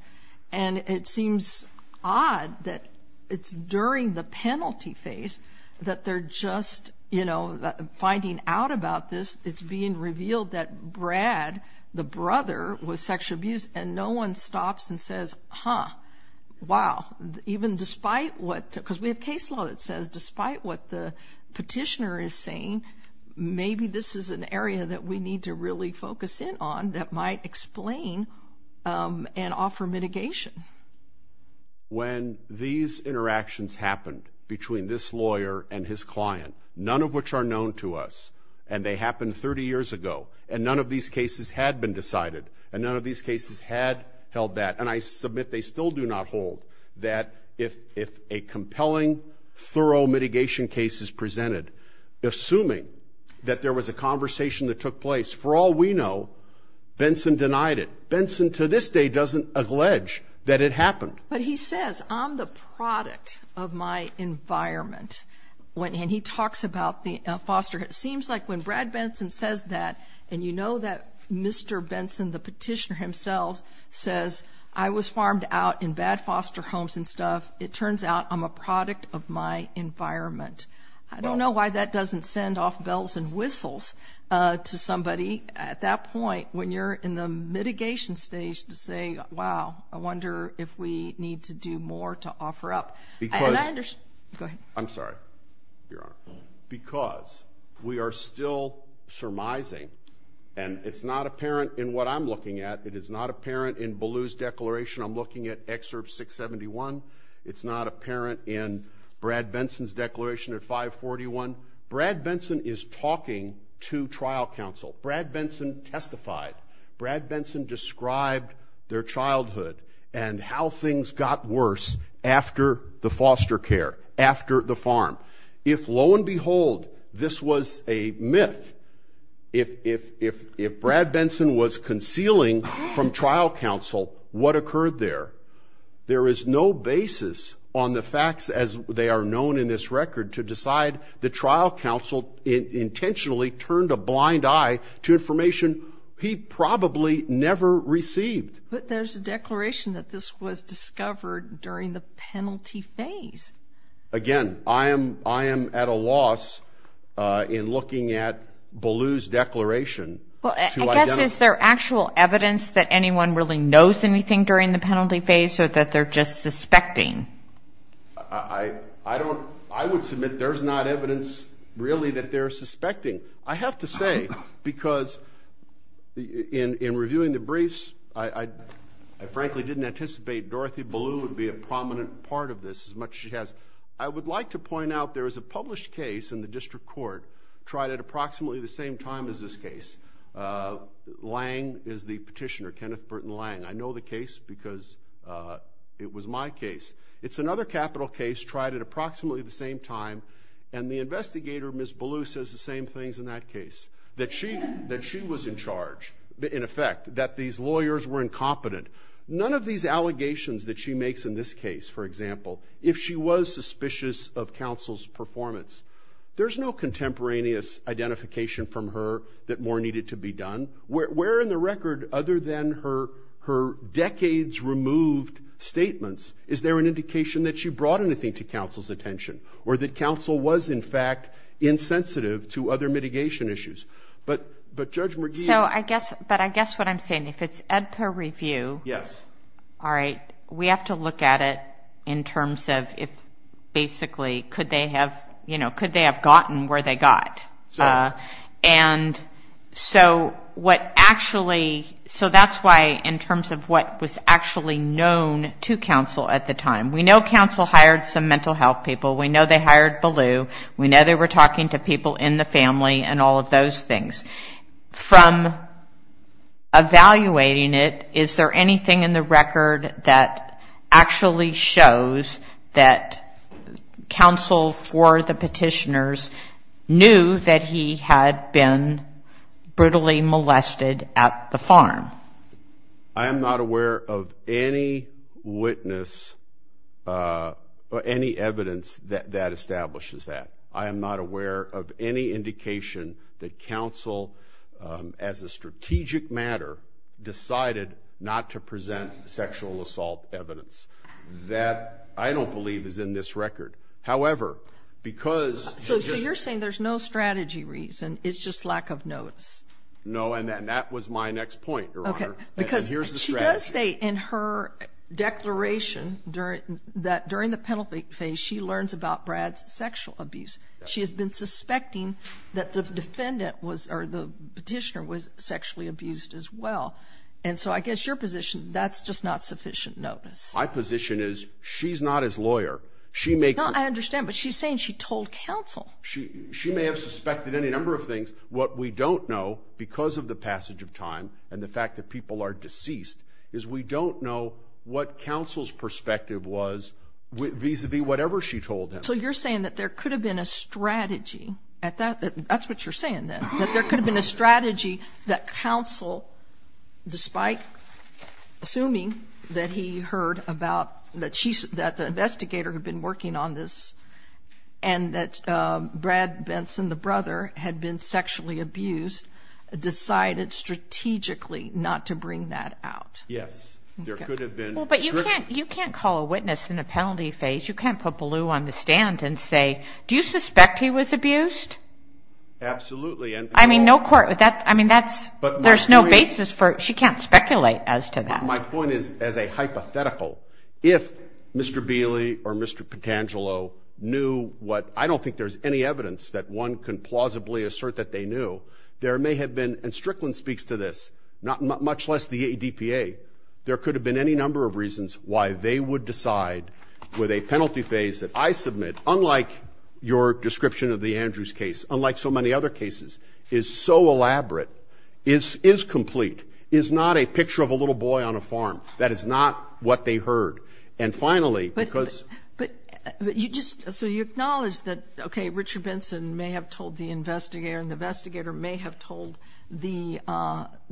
and it seems odd that it's during the penalty phase that they're just, you know, finding out about this. It's being revealed that Brad, the brother, was sexually abused, and no one stops and says, huh, wow, even despite what, because we have case law that says despite what the petitioner is saying, maybe this is an area that we need to really focus in on that might explain and offer mitigation. When these interactions happened between this lawyer and his client, none of which are known to us, and they happened 30 years ago, and none of these cases had been decided, and none of these cases had held that, and I submit they still do not hold that if a compelling, thorough mitigation case is presented, assuming that there was a conversation that took place, for all we know, Benson denied it. Benson to this day doesn't allege that it happened. But he says, I'm the product of my environment, and he talks about the foster, it seems like when Brad Benson says that, and you know that Mr. Benson, the petitioner himself, says I was farmed out in bad foster homes and stuff, it turns out I'm a product of my environment. I don't know why that doesn't send off bells and whistles to somebody at that point when you're in the mitigation stage to say, wow, I wonder if we need to do more to offer up. I'm sorry. Because we are still surmising, and it's not apparent in what I'm looking at, it is not apparent in Ballou's declaration, I'm looking at excerpt 671, it's not apparent in Brad Benson's declaration at 541, Brad Benson is talking to trial counsel. Brad Benson testified. Brad Benson described their childhood and how things got worse after the foster care, after the farm. If, lo and behold, this was a myth, if Brad Benson was concealing from trial counsel what occurred there, there is no basis on the facts as they are known in this record to decide that trial counsel intentionally turned a blind eye to information he probably never received. But there's a declaration that this was discovered during the penalty phase. Again, I am at a loss in looking at Ballou's declaration. Is there actual evidence that anyone really knows anything during the penalty phase or that they're just suspecting? I would submit there's not evidence really that they're suspecting. I have to say, because in reviewing the briefs, I frankly didn't anticipate Dorothy Ballou would be a prominent part of this as much as she has. I would like to point out there is a published case in the district court tried at approximately the same time as this case. Lang is the petitioner, Kenneth Burton Lang. I know the case because it was my case. It's another capital case tried at approximately the same time, and the investigator, Ms. Ballou, says the same things in that case, that she was in charge, in effect, that these lawyers were incompetent. None of these allegations that she makes in this case, for example, if she was suspicious of counsel's performance, there's no contemporaneous identification from her that more needed to be done. Where in the record, other than her decades-removed statements, is there an indication that she brought anything to counsel's attention, or that counsel was, in fact, insensitive to other mitigation issues? But Judge McGee... But I guess what I'm saying, if it's at the review, we have to look at it in terms of, basically, could they have gotten where they got? And so what actually... So that's why, in terms of what was actually known to counsel at the time, we know counsel hired some mental health people, we know they hired Ballou, we know they were talking to people in the family, and all of those things. From evaluating it, is there anything in the record that actually shows that counsel, for the petitioners, knew that he had been brutally molested at the farm? I am not aware of any witness or any evidence that establishes that. I am not aware of any indication that counsel, as a strategic matter, decided not to present sexual assault evidence. That, I don't believe, is in this record. However, because... So you're saying there's no strategy reason, it's just lack of notice? No, and that was my next point, Your Honor. Okay. Because she does say in her declaration that, during the penalty phase, she learns about Brad's sexual abuse. She has been suspecting that the petitioner was sexually abused as well. And so I guess your position, that's just not sufficient notice. My position is, she's not his lawyer. I understand, but she's saying she told counsel. She may have suspected any number of things. What we don't know, because of the passage of time and the fact that people are deceased, is we don't know what counsel's perspective was vis-à-vis whatever she told them. So you're saying that there could have been a strategy at that? That's what you're saying, then? That there could have been a strategy that counsel, despite assuming that he heard about that the investigator had been working on this and that Brad Benson, the brother, had been sexually abused, decided strategically not to bring that out? Yes. There could have been. But you can't call a witness in a penalty phase. You can't put Ballou on the stand and say, do you suspect he was abused? Absolutely. I mean, there's no basis for it. She can't speculate as to that. My point is, as a hypothetical, if Mr. Bailey or Mr. Patangelo knew what – I don't think there's any evidence that one can plausibly assert that they knew. There may have been – and Strickland speaks to this, much less the ADPA. There could have been any number of reasons why they would decide, with a penalty phase that I submit, unlike your description of the Andrews case, unlike so many other cases, is so elaborate, is complete, is not a picture of a little boy on a farm. That is not what they heard. And finally, because – But you just – so you acknowledge that, okay, Richard Benson may have told the investigator and the investigator may have told the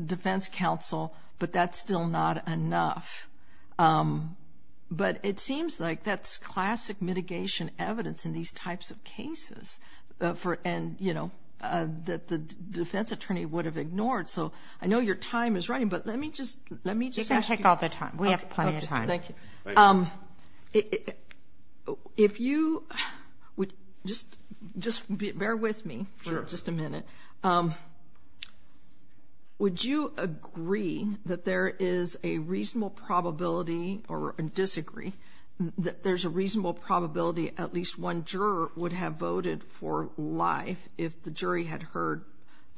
defense counsel, but that's still not enough. But it seems like that's classic mitigation evidence in these types of cases for – and, you know, that the defense attorney would have ignored. So I know your time is running, but let me just – let me just ask you – You can take all the time. We have plenty of time. Okay, thank you. If you – just bear with me for just a minute. Would you agree that there is a reasonable probability – or disagree – that there's a reasonable probability at least one juror would have voted for life if the jury had heard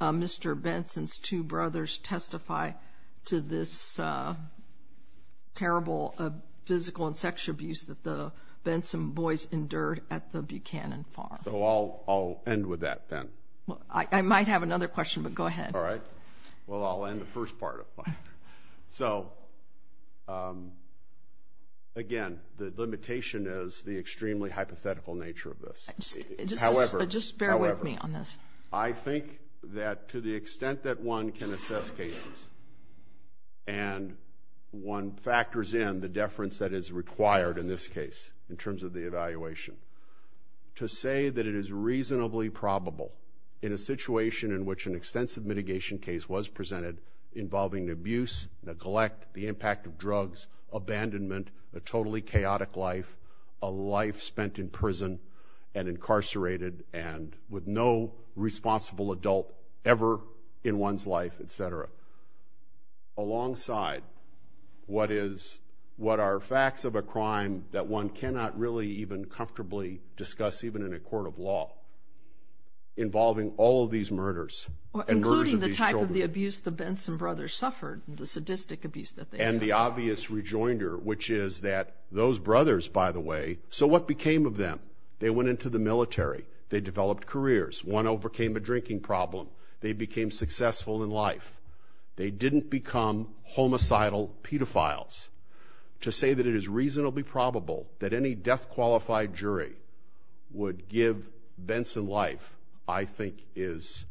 Mr. Benson's two brothers testify to this terrible physical and sexual abuse that the Benson boys endured at the Buchanan farm? So I'll end with that then. I might have another question, but go ahead. All right. Well, I'll end the first part of it. So, again, the limitation is the extremely hypothetical nature of this. However, I think that to the extent that one can assess cases and one factors in the deference that is required in this case in terms of the evaluation, to say that it is reasonably probable in a situation in which an extensive mitigation case was presented involving abuse, neglect, the impact of drugs, abandonment, a totally chaotic life, a life spent in prison and incarcerated and with no responsible adult ever in one's life, et cetera, alongside what is – what are facts of a crime that one cannot really even comfortably discuss even in a court of law involving all of these murders and murders of these children. Including the type of the abuse the Benson brothers suffered, the sadistic abuse that they – and the obvious rejoinder, which is that those brothers, by the way, so what became of them? They went into the military. They developed careers. One overcame a drinking problem. They became successful in life. They didn't become homicidal pedophiles. To say that it is reasonably probable that any death-qualified jury would give Benson life, I think is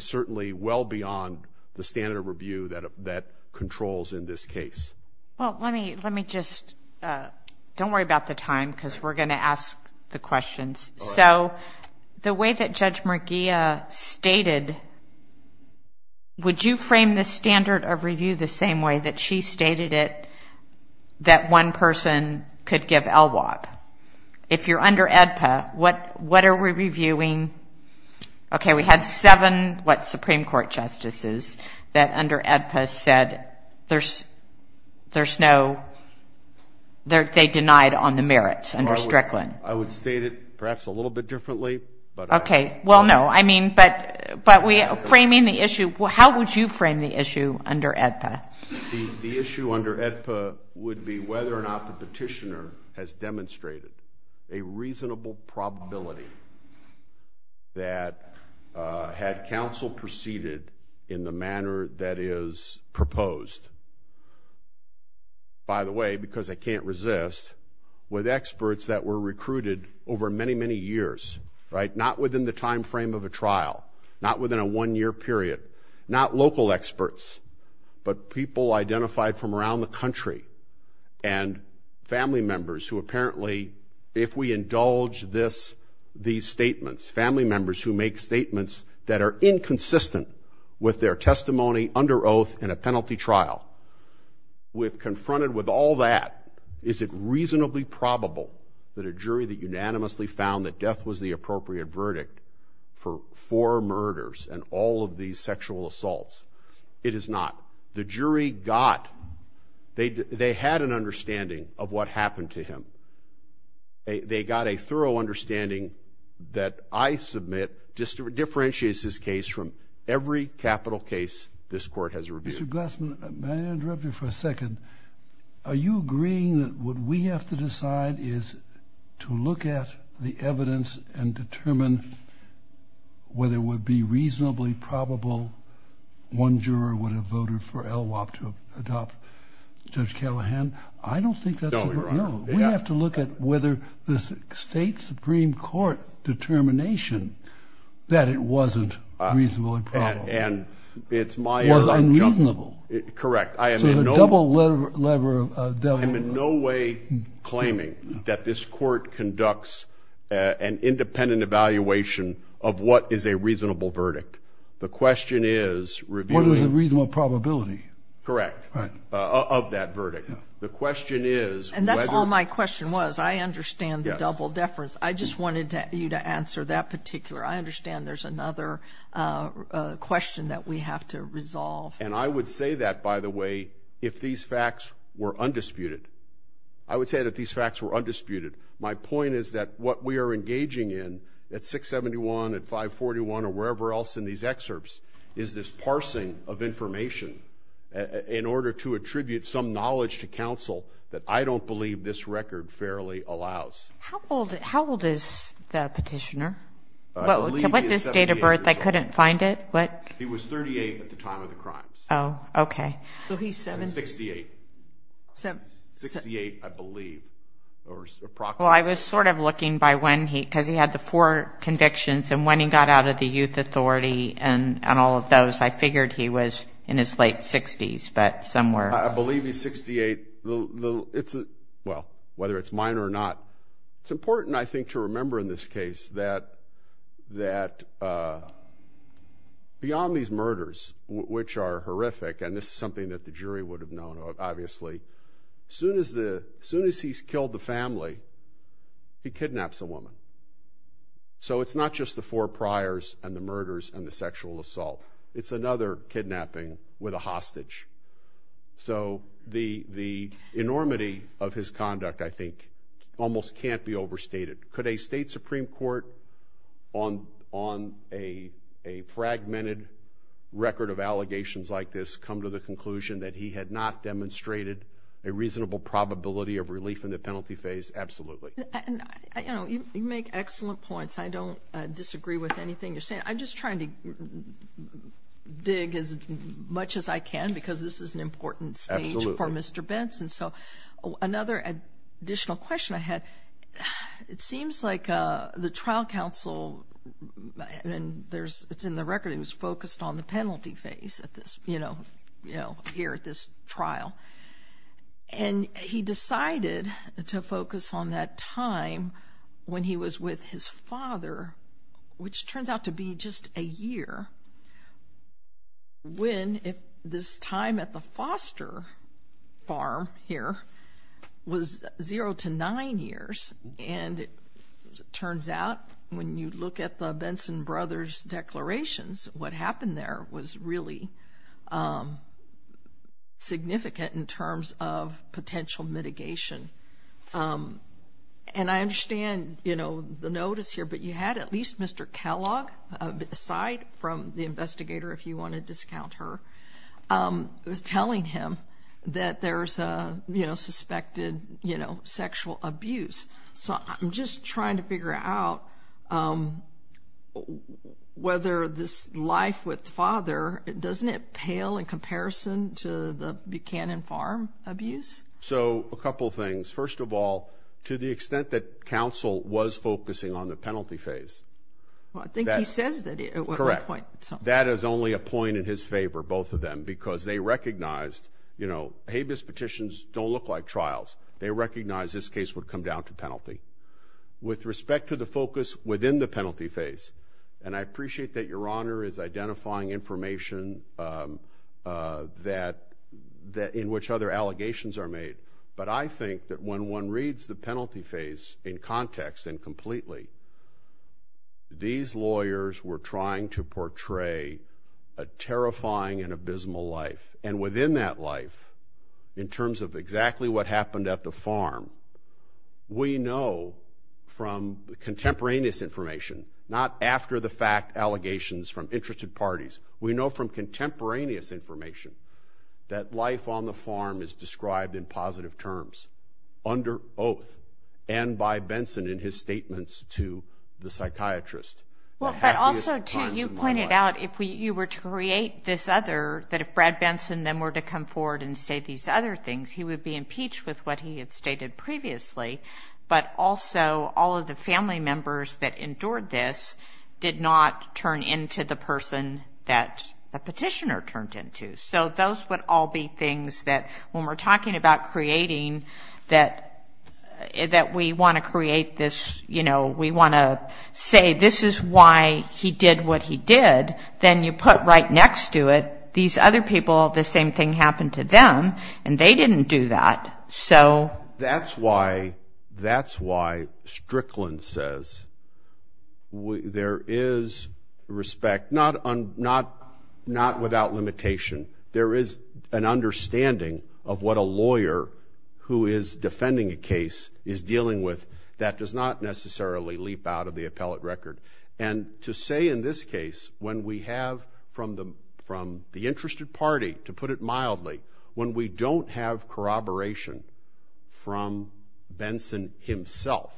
certainly well beyond the standard of review that controls in this case. Well, let me just – don't worry about the time because we're going to ask the questions. So the way that Judge Merguia stated, would you frame the standard of review the same way that she stated it, that one person could give LWOP? If you're under AEDPA, what are we reviewing? Okay, we had seven, what, Supreme Court justices that under AEDPA said there's no – they denied on the merits under Strickland. I would state it perhaps a little bit differently. Okay. Well, no, I mean, but framing the issue – how would you frame the issue under AEDPA? The issue under AEDPA would be whether or not the petitioner has demonstrated a reasonable probability that had counsel proceeded in the manner that is proposed, by the way, because I can't resist, with experts that were recruited over many, many years, right, not within the timeframe of a trial, not within a one-year period, not local experts, but people identified from around the country and family members who apparently, if we indulge this, these statements, family members who make statements that are inconsistent with their testimony under oath in a penalty trial. With – confronted with all that, is it reasonably probable that a jury that unanimously found that death was the appropriate verdict for four murders and all of these sexual assaults? It is not. The jury got – they had an understanding of what happened to him. They got a thorough understanding that I submit differentiates this case from every capital case this court has reviewed. Mr. Glassman, may I interrupt you for a second? Are you agreeing that what we have to decide is to look at the evidence and determine whether it would be reasonably probable one juror would have voted for LWOP to adopt Judge Callahan? I don't think that's a – No, you're right. We have to look at whether the state supreme court determination that it wasn't reasonably probable. And it's my – Was unreasonable. Correct. I am in no way claiming that this court conducts an independent evaluation of what is a reasonable verdict. The question is reviewing – What is a reasonable probability? Correct. Of that verdict. The question is whether – And that's all my question was. I understand the double deference. I just wanted you to answer that particular. I understand there's another question that we have to resolve. And I would say that, by the way, if these facts were undisputed. I would say that these facts were undisputed. My point is that what we are engaging in at 671, at 541, or wherever else in these excerpts, is this parsing of information in order to attribute some knowledge to counsel that I don't believe this record fairly allows. How old is the petitioner? What's his date of birth? I couldn't find it. What? He was 38 at the time of the crime. Oh, okay. So he's – 68. 68, I believe, or approximately. Well, I was sort of looking by when he – because he had the four convictions. And when he got out of the youth authority and all of those, I figured he was in his late 60s. But somewhere – I believe he's 68. Well, whether it's mine or not, it's important, I think, to remember in this case that beyond these murders, which are horrific – and this is something that the jury would have known, obviously – as soon as he's killed the family, he kidnaps a woman. So it's not just the four priors and the murders and the sexual assault. It's another kidnapping with a hostage. So the enormity of his conduct, I think, almost can't be overstated. Could a state Supreme Court, on a fragmented record of allegations like this, come to the conclusion that he had not demonstrated a reasonable probability of relief in the penalty phase? Absolutely. You make excellent points. I don't disagree with anything you're saying. I'm just trying to dig as much as I can because this is an important stage for Mr. Benson. So another additional question I had, it seems like the trial counsel – and it's in the record he was focused on the penalty phase here at this trial. And he decided to focus on that time when he was with his father, which turned out to be just a year, when this time at the foster farm here was zero to nine years. And it turns out, when you look at the Benson brothers' declarations, what happened there was really significant in terms of potential mitigation. And I understand the notice here, but you had at least Mr. Kellogg, aside from the investigator if you want to discount her, telling him that there's suspected sexual abuse. So I'm just trying to figure out whether this life with the father, doesn't it pale in comparison to the Buchanan Farm abuse? So a couple of things. First of all, to the extent that counsel was focusing on the penalty phase – Well, I think he said that at one point. That is only a point in his favor, both of them, because they recognized, you know, habeas petitions don't look like trials. They recognized this case would come down to penalty. With respect to the focus within the penalty phase, and I appreciate that Your Honor is identifying information in which other allegations are made, but I think that when one reads the penalty phase in context and completely, these lawyers were trying to portray a terrifying and abysmal life. And within that life, in terms of exactly what happened at the farm, we know from contemporaneous information, not after-the-fact allegations from interested parties, we know from contemporaneous information that life on the farm is described in positive terms, under oath, and by Benson in his statements to the psychiatrist. But also, too, you pointed out if you were to create this other, that if Brad Benson then were to come forward and state these other things, he would be impeached with what he had stated previously, but also all of the family members that endured this did not turn into the person that the petitioner turned into. So those would all be things that when we're talking about creating, that we want to create this, you know, we want to say this is why he did what he did, then you put right next to it these other people, the same thing happened to them, and they didn't do that. That's why Strickland says there is respect, not without limitation, there is an understanding of what a lawyer who is defending a case is dealing with that does not necessarily leap out of the appellate record. And to say in this case when we have from the interested party, to put it mildly, when we don't have corroboration from Benson himself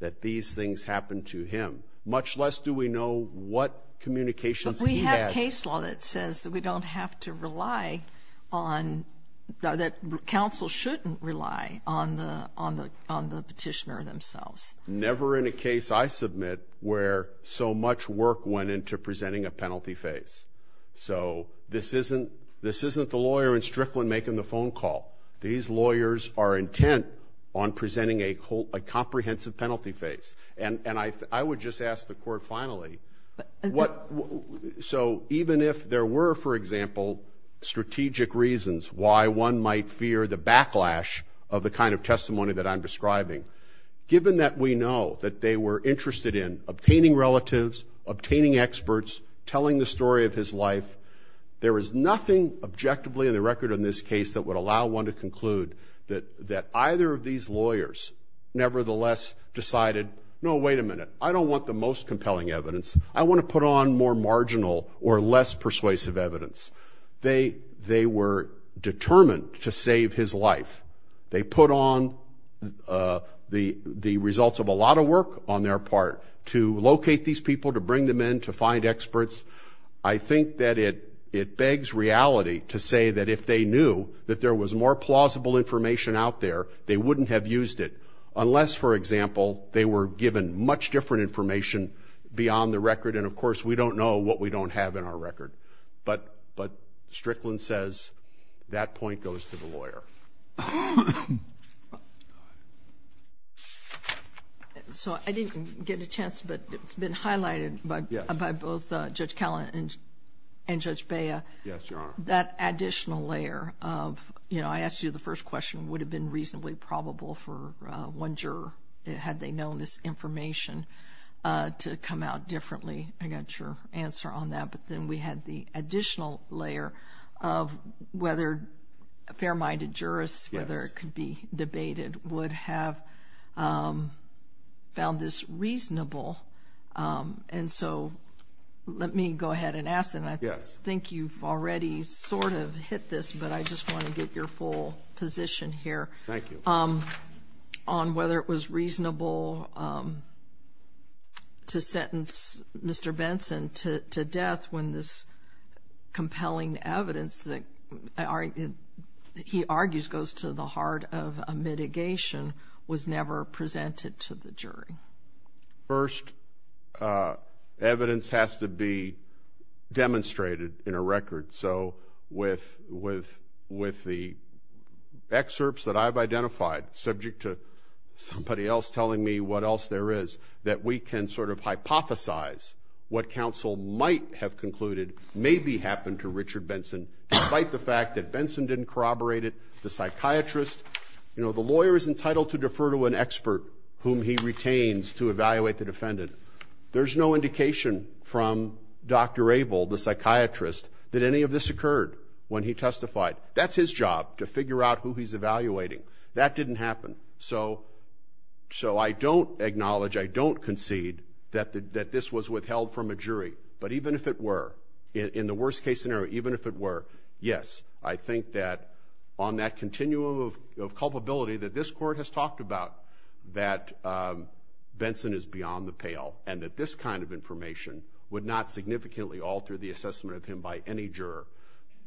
that these things happened to him, much less do we know what communications he had. We have case law that says that we don't have to rely on, that counsel shouldn't rely on the petitioner themselves. Never in a case I submit where so much work went into presenting a penalty face. So this isn't the lawyer in Strickland making the phone call. These lawyers are intent on presenting a comprehensive penalty face. And I would just ask the court finally, so even if there were, for example, strategic reasons why one might fear the backlash of the kind of testimony that I'm describing, given that we know that they were interested in obtaining relatives, obtaining experts, telling the story of his life, there is nothing objectively in the record in this case that would allow one to conclude that either of these lawyers nevertheless decided, no, wait a minute, I don't want the most compelling evidence. I want to put on more marginal or less persuasive evidence. They were determined to save his life. They put on the results of a lot of work on their part to locate these people, to bring them in, to find experts. I think that it begs reality to say that if they knew that there was more plausible information out there, they wouldn't have used it unless, for example, they were given much different information beyond the record. And, of course, we don't know what we don't have in our record. So I didn't get a chance, but it's been highlighted by both Judge Callan and Judge Bea. Yes, there are. That additional layer of, you know, I asked you the first question, would it have been reasonably probable for one juror, had they known this information, to come out differently. I got your answer on that. But then we had the additional layer of whether a fair-minded jurist, whether it could be debated, would have found this reasonable. And so let me go ahead and ask them. I think you've already sort of hit this, but I just want to get your full position here. Thank you. On whether it was reasonable to sentence Mr. Benson to death when this compelling evidence that he argues goes to the heart of a mitigation was never presented to the jury. First, evidence has to be demonstrated in a record. So with the excerpts that I've identified, subject to somebody else telling me what else there is, that we can sort of hypothesize what counsel might have concluded may be happened to Richard Benson, despite the fact that Benson didn't corroborate it, the psychiatrist, you know, the lawyer is entitled to defer to an expert whom he retains to evaluate the defendant. There's no indication from Dr. Abel, the psychiatrist, that any of this occurred when he testified. That's his job, to figure out who he's evaluating. That didn't happen. So I don't acknowledge, I don't concede that this was withheld from a jury. But even if it were, in the worst-case scenario, even if it were, yes, I think that on that continuum of culpability that this court has talked about, that Benson is beyond the pale and that this kind of information would not significantly alter the assessment of him by any juror.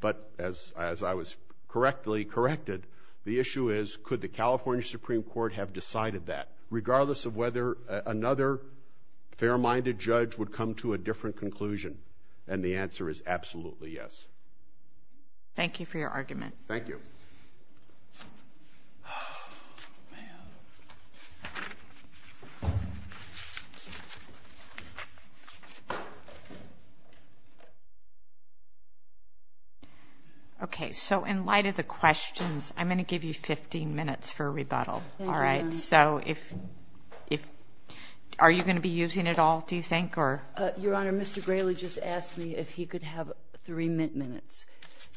But as I was correctly corrected, the issue is, could the California Supreme Court have decided that, regardless of whether another fair-minded judge would come to a different conclusion? And the answer is absolutely yes. Thank you for your argument. Thank you. Okay, so in light of the questions, I'm going to give you 15 minutes for a rebuttal. So are you going to be using it all, do you think? Your Honor, Mr. Grayley just asked me if he could have three minutes.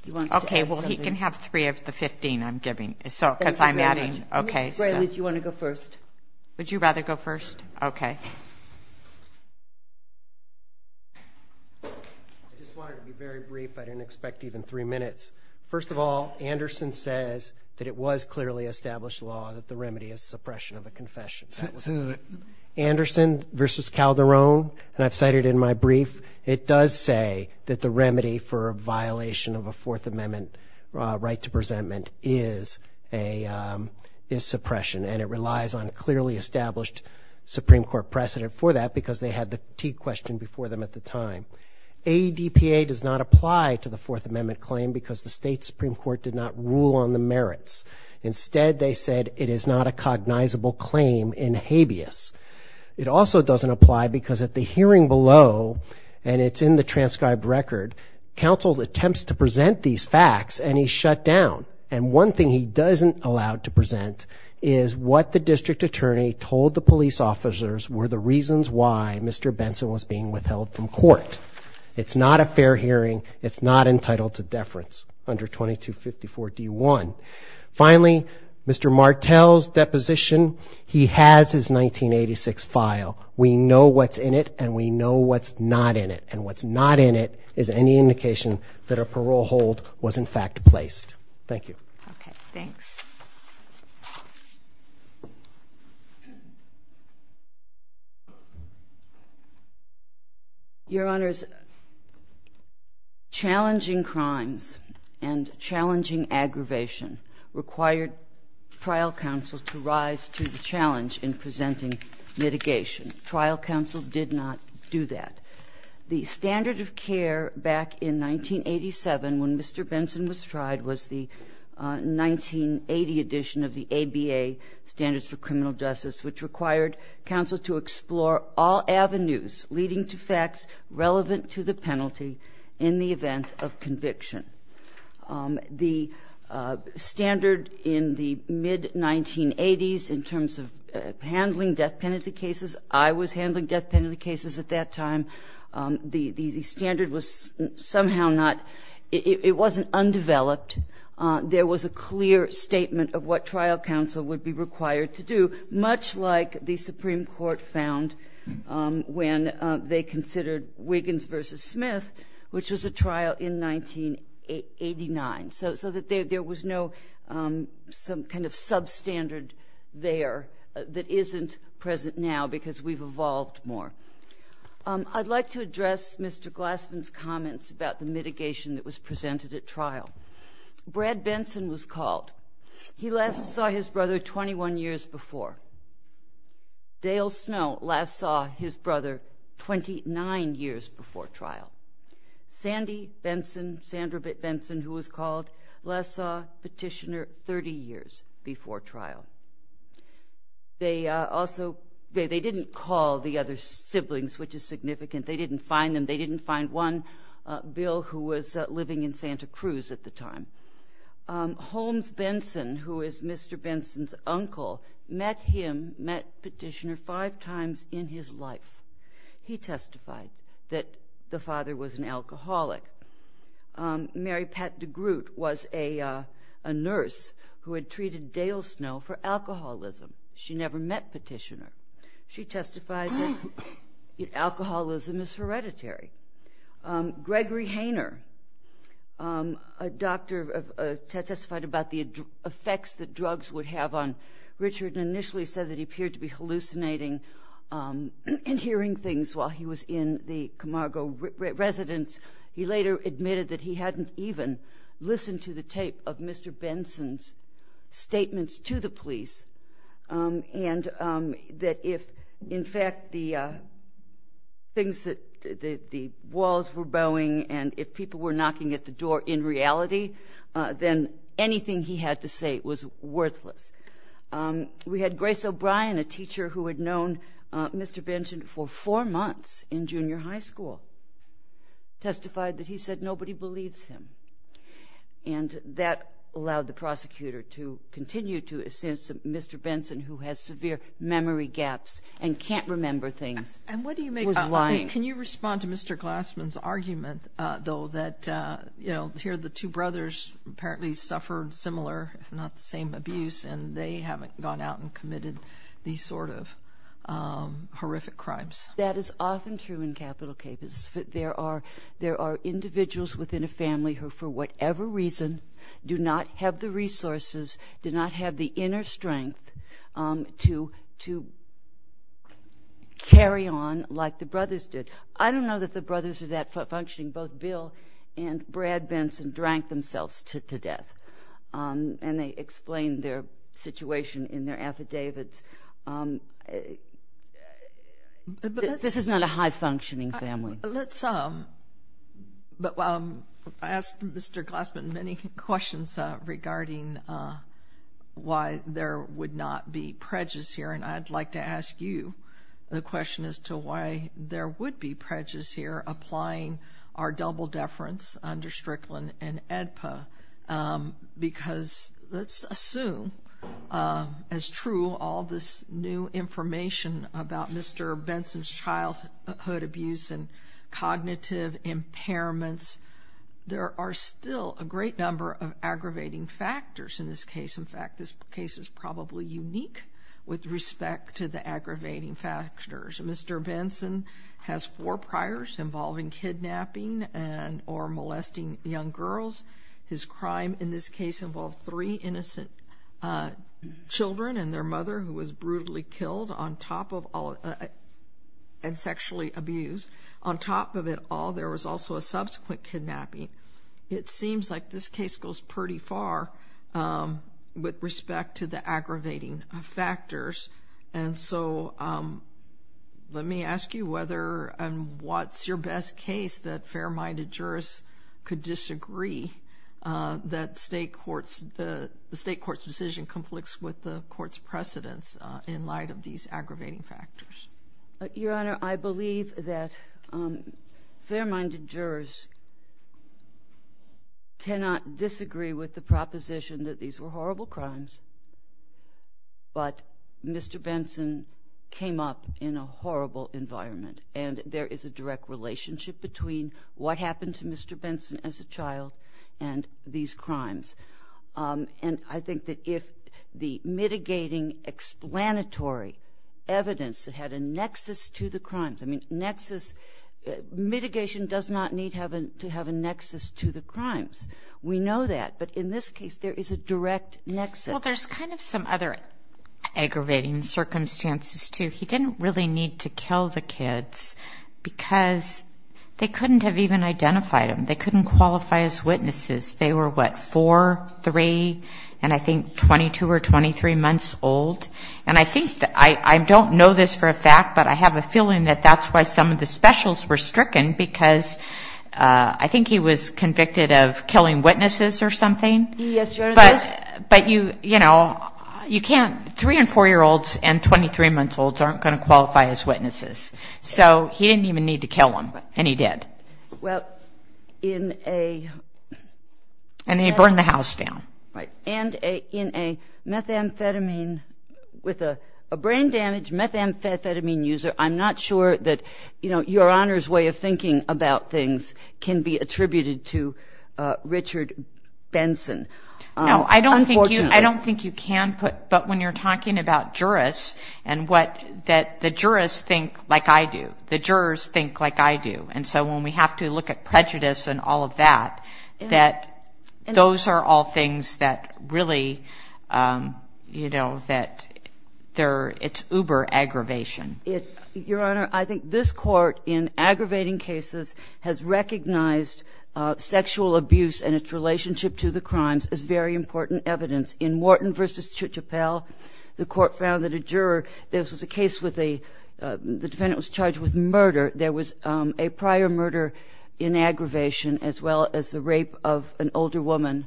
Okay, well, he can have three of the 15 I'm giving. Mr. Grayley, do you want to go first? Would you rather go first? Okay. I just wanted to be very brief. I didn't expect even three minutes. First of all, Anderson says that it was clearly established law that the remedy is suppression of a confession. Anderson versus Calderon, and I've said it in my brief, it does say that the remedy for a violation of a Fourth Amendment right to presentment is suppression, and it relies on a clearly established Supreme Court precedent for that because they had the T question before them at the time. ADPA does not apply to the Fourth Amendment claim because the state Supreme Court did not rule on the merits. Instead, they said it is not a cognizable claim in habeas. It also doesn't apply because at the hearing below, and it's in the transcribed record, counsel attempts to present these facts and he's shut down, and one thing he doesn't allow to present is what the district attorney told the police officers were the reasons why Mr. Benson was being withheld from court. It's not a fair hearing. It's not entitled to deference under 2254 D1. Finally, Mr. Martel's deposition, he has his 1986 file. We know what's in it and we know what's not in it, and what's not in it is any indication that a parole hold was in fact placed. Thank you. Okay, thanks. Your Honors, challenging crimes and challenging aggravation required trial counsel to rise to the challenge in presenting mitigation. Trial counsel did not do that. The standard of care back in 1987 when Mr. Benson was tried was the 1980 edition of the ABA Standards for Criminal Justice, which required counsel to explore all avenues leading to facts relevant to the penalty in the event of conviction. The standard in the mid-1980s in terms of handling death penalty cases, I was handling death penalty cases at that time. The standard was somehow not, it wasn't undeveloped. There was a clear statement of what trial counsel would be required to do, much like the Supreme Court found when they considered Wiggins v. Smith, which was a trial in 1989, so that there was no kind of substandard there that isn't present now because we've evolved more. I'd like to address Mr. Glassman's comments about the mitigation that was presented at trial. Brad Benson was called. He last saw his brother 21 years before. Dale Snow last saw his brother 29 years before trial. Sandy Benson, Sandra Benson, who was called, last saw Petitioner 30 years before trial. They didn't call the other siblings, which is significant. They didn't find them. They didn't find one bill who was living in Santa Cruz at the time. Holmes Benson, who is Mr. Benson's uncle, met Petitioner five times in his life. He testified that the father was an alcoholic. Mary Pat DeGroote was a nurse who had treated Dale Snow for alcoholism. She never met Petitioner. She testified that alcoholism is hereditary. Gregory Hayner, a doctor, testified about the effects that drugs would have on Richard and initially said that he appeared to be hallucinating and hearing things while he was in the Camargo residence. He later admitted that he hadn't even listened to the tape of Mr. Benson's statements to the police and that if, in fact, the walls were bowing and if people were knocking at the door in reality, then anything he had to say was worthless. We had Grace O'Brien, a teacher who had known Mr. Benson for four months in junior high school, testified that he said nobody believes him, and that allowed the prosecutor to continue to assess that Mr. Benson, who has severe memory gaps and can't remember things, was lying. Can you respond to Mr. Glassman's argument, though, that here the two brothers apparently suffered similar, if not the same, abuse and they haven't gone out and committed these sort of horrific crimes? That is often true in capital cases. There are individuals within a family who, for whatever reason, do not have the resources, do not have the inner strength to carry on like the brothers did. I don't know that the brothers are that functioning. Both Bill and Brad Benson drank themselves to death, and they explained their situation in their affidavits. This is not a high-functioning family. I asked Mr. Glassman many questions regarding why there would not be prejudice here, and I'd like to ask you the question as to why there would be prejudice here applying our double deference under Strickland and AEDPA, because let's assume as true all this new information about Mr. Benson's childhood abuse and cognitive impairments, there are still a great number of aggravating factors in this case. In fact, this case is probably unique with respect to the aggravating factors. Mr. Benson has four priors involving kidnapping or molesting young girls. His crime in this case involved three innocent children and their mother, who was brutally killed and sexually abused. On top of it all, there was also a subsequent kidnapping. It seems like this case goes pretty far with respect to the aggravating factors, and so let me ask you whether and what's your best case that fair-minded jurors could disagree that the state court's decision conflicts with the court's precedence in light of these aggravating factors. Your Honor, I believe that fair-minded jurors cannot disagree with the proposition that these were horrible crimes, but Mr. Benson came up in a horrible environment, and there is a direct relationship between what happened to Mr. Benson as a child and these crimes. And I think that if the mitigating explanatory evidence had a nexus to the crimes, I mean, mitigation does not need to have a nexus to the crimes. We know that, but in this case, there is a direct nexus. Well, there's kind of some other aggravating circumstances, too. He didn't really need to kill the kids because they couldn't have even identified them. They couldn't qualify as witnesses. They were, what, four, three, and I think 22 or 23 months old, and I think that I don't know this for a fact, but I have a feeling that that's why some of the specials were stricken because I think he was convicted of killing witnesses or something. Yes, Your Honor. But, you know, three- and four-year-olds and 23-month-olds aren't going to qualify as witnesses, so he didn't even need to kill them, and he did. And he burned the house down. And in a methamphetamine, with a brain damage methamphetamine user, I'm not sure that, you know, Your Honor's way of thinking about things can be attributed to Richard Benson. No, I don't think you can, but when you're talking about jurists and what the jurists think like I do, the jurors think like I do, and so when we have to look at prejudice and all of that, that those are all things that really, you know, that it's uber-aggravation. Your Honor, I think this court, in aggravating cases, has recognized sexual abuse and its relationship to the crimes as very important evidence. In Morton v. Chichapel, the court found that a juror, this was a case where the defendant was charged with murder. There was a prior murder in aggravation as well as the rape of an older woman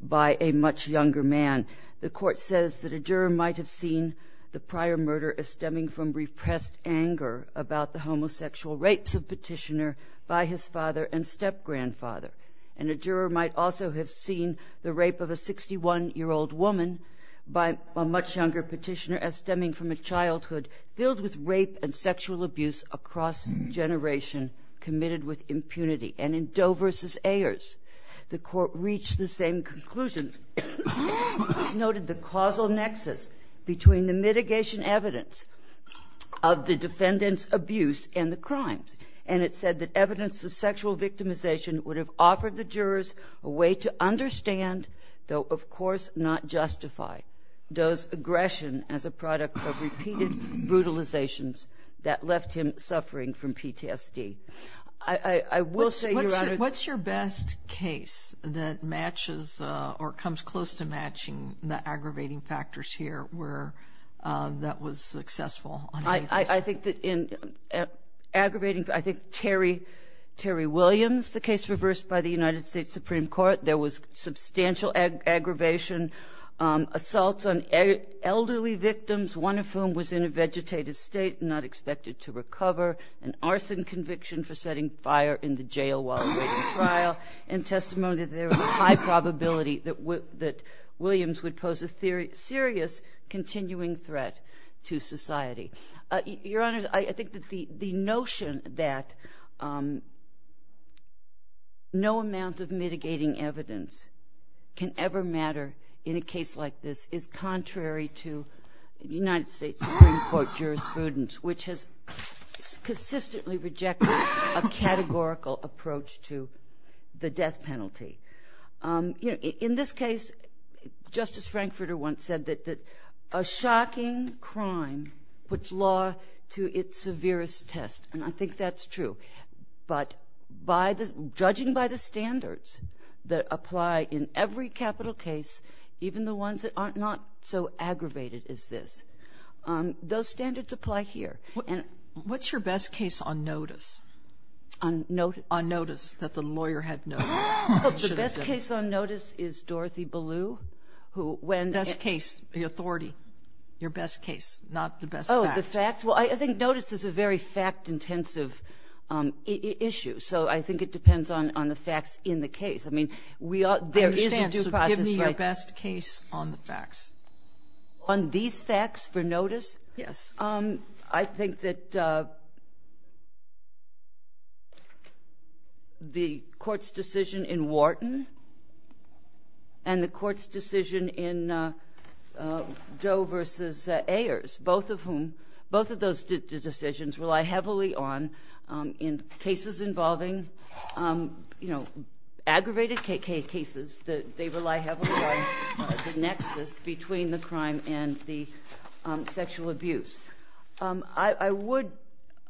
by a much younger man. The court says that a juror might have seen the prior murder as stemming from repressed anger about the homosexual rapes of Petitioner by his father and step-grandfather, and a juror might also have seen the rape of a 61-year-old woman by a much younger Petitioner as stemming from a childhood filled with rape and sexual abuse across generations committed with impunity. And in Doe v. Ayers, the court reached the same conclusion. It noted the causal nexus between the mitigation evidence of the defendant's abuse and the crimes, and it said that evidence of sexual victimization would have offered the jurors a way to understand, though of course not justify Doe's aggression as a product of repeated brutalizations that left him suffering from PTSD. I will say, Your Honor, What's your best case that matches or comes close to matching the aggravating factors here that was successful? I think that in aggravating, I think Terry Williams, the case reversed by the United States Supreme Court, there was substantial aggravation, assaults on elderly victims, one of whom was in a vegetative state, not expected to recover, an arson conviction for setting fire in the jail while he was in trial, and testimony that there was a high probability that Williams would pose a serious continuing threat to society. Your Honor, I think that the notion that no amount of mitigating evidence can ever matter in a case like this is contrary to United States Supreme Court jurisprudence, which has consistently rejected a categorical approach to the death penalty. In this case, Justice Frankfurter once said that a shocking crime puts law to its severest test, and I think that's true, but judging by the standards that apply in every capital case, even the ones that are not so aggravated as this, those standards apply here. What's your best case on notice? On notice? On notice, that the lawyer had notice. The best case on notice is Dorothy Ballew. Best case, the authority, your best case, not the best facts. Oh, the facts? Well, I think notice is a very fact-intensive issue, so I think it depends on the facts in the case. I understand, so give me your best case on the facts. On these facts for notice? Yes. I think that the court's decision in Wharton and the court's decision in Doe v. Ayers, both of whom, both of those decisions rely heavily on in cases involving, you know, I would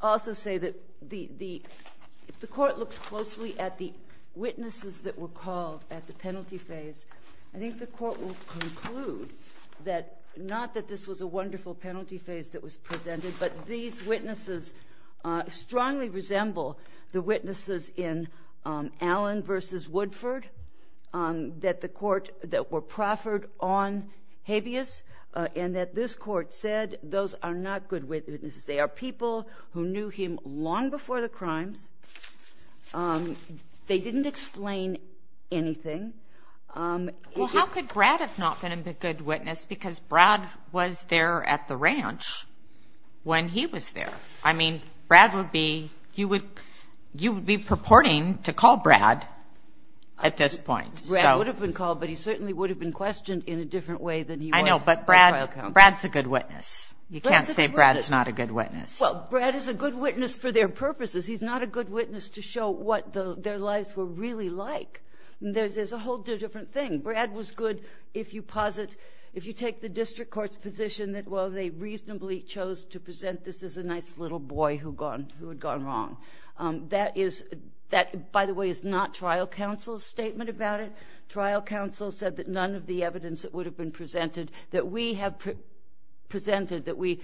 also say that the court looks closely at the witnesses that were called at the penalty phase. I think the court will conclude that not that this was a wonderful penalty phase that was presented, but these witnesses strongly resemble the witnesses in Allen v. Woodford, that the court, that were proffered on habeas and that this court said those are not good witnesses. They are people who knew him long before the crime. They didn't explain anything. Well, how could Brad have not been a good witness because Brad was there at the ranch when he was there? I mean, Brad would be, he would, you would be purporting to call Brad at this point. Brad would have been called, but he certainly would have been questioned in a different way than he was. I know, but Brad's a good witness. You can't say Brad's not a good witness. Well, Brad is a good witness for their purposes. He's not a good witness to show what their lives were really like. There's a whole different thing. Brad was good if you posit, if you take the district court's position that, well, they reasonably chose to present this as a nice little boy who had gone wrong. That is, that, by the way, is not trial counsel's statement about it. Trial counsel said that none of the evidence that would have been presented, that we have presented, that we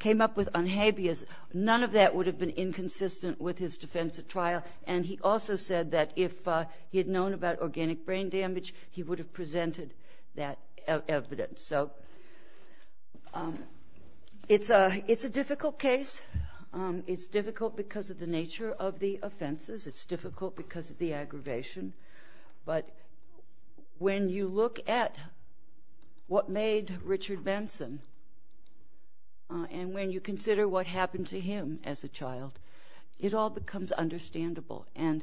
came up with on habeas, none of that would have been inconsistent with his defense at trial. And he also said that if he had known about organic brain damage, he would have presented that evidence. So it's a difficult case. It's difficult because of the nature of the offenses. It's difficult because of the aggravation. But when you look at what made Richard Benson, and when you consider what happened to him as a child, it all becomes understandable. And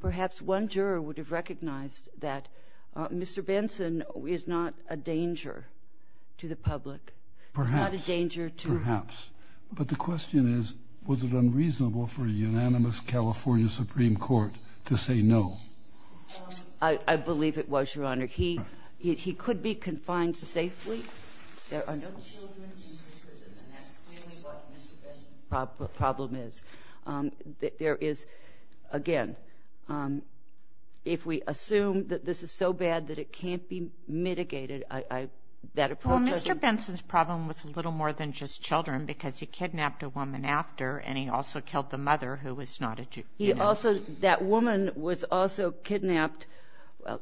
perhaps one juror would have recognized that Mr. Benson is not a danger to the public. Perhaps. Not a danger to him. Perhaps. But the question is, was it unreasonable for a unanimous California Supreme Court to say no? I believe it was, Your Honor. He could be confined safely. Don't you agree with that? We don't know what the problem is. There is, again, if we assume that this is so bad that it can't be mitigated, that approach doesn't work. Well, Mr. Benson's problem was a little more than just children because he kidnapped a woman after, and he also killed the mother who was not a juvenile. That woman was also kidnapped.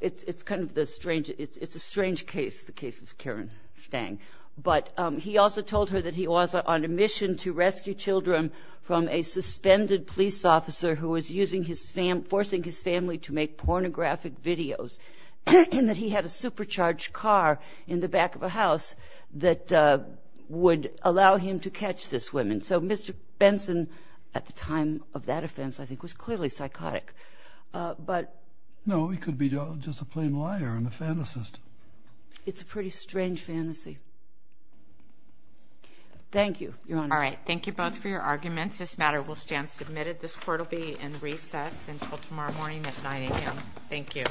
It's a strange case, the case of Karen Stang. But he also told her that he was on a mission to rescue children from a suspended police officer who was forcing his family to make pornographic videos, and that he had a supercharged car in the back of a house that would allow him to catch this woman. So Mr. Benson, at the time of that offense, I think was clearly psychotic. No, he could be just a plain liar and a fantasist. It's a pretty strange fantasy. Thank you, Your Honor. All right. Thank you both for your arguments. This matter will stand submitted. This court will be in recess until tomorrow morning at 9 a.m. Thank you.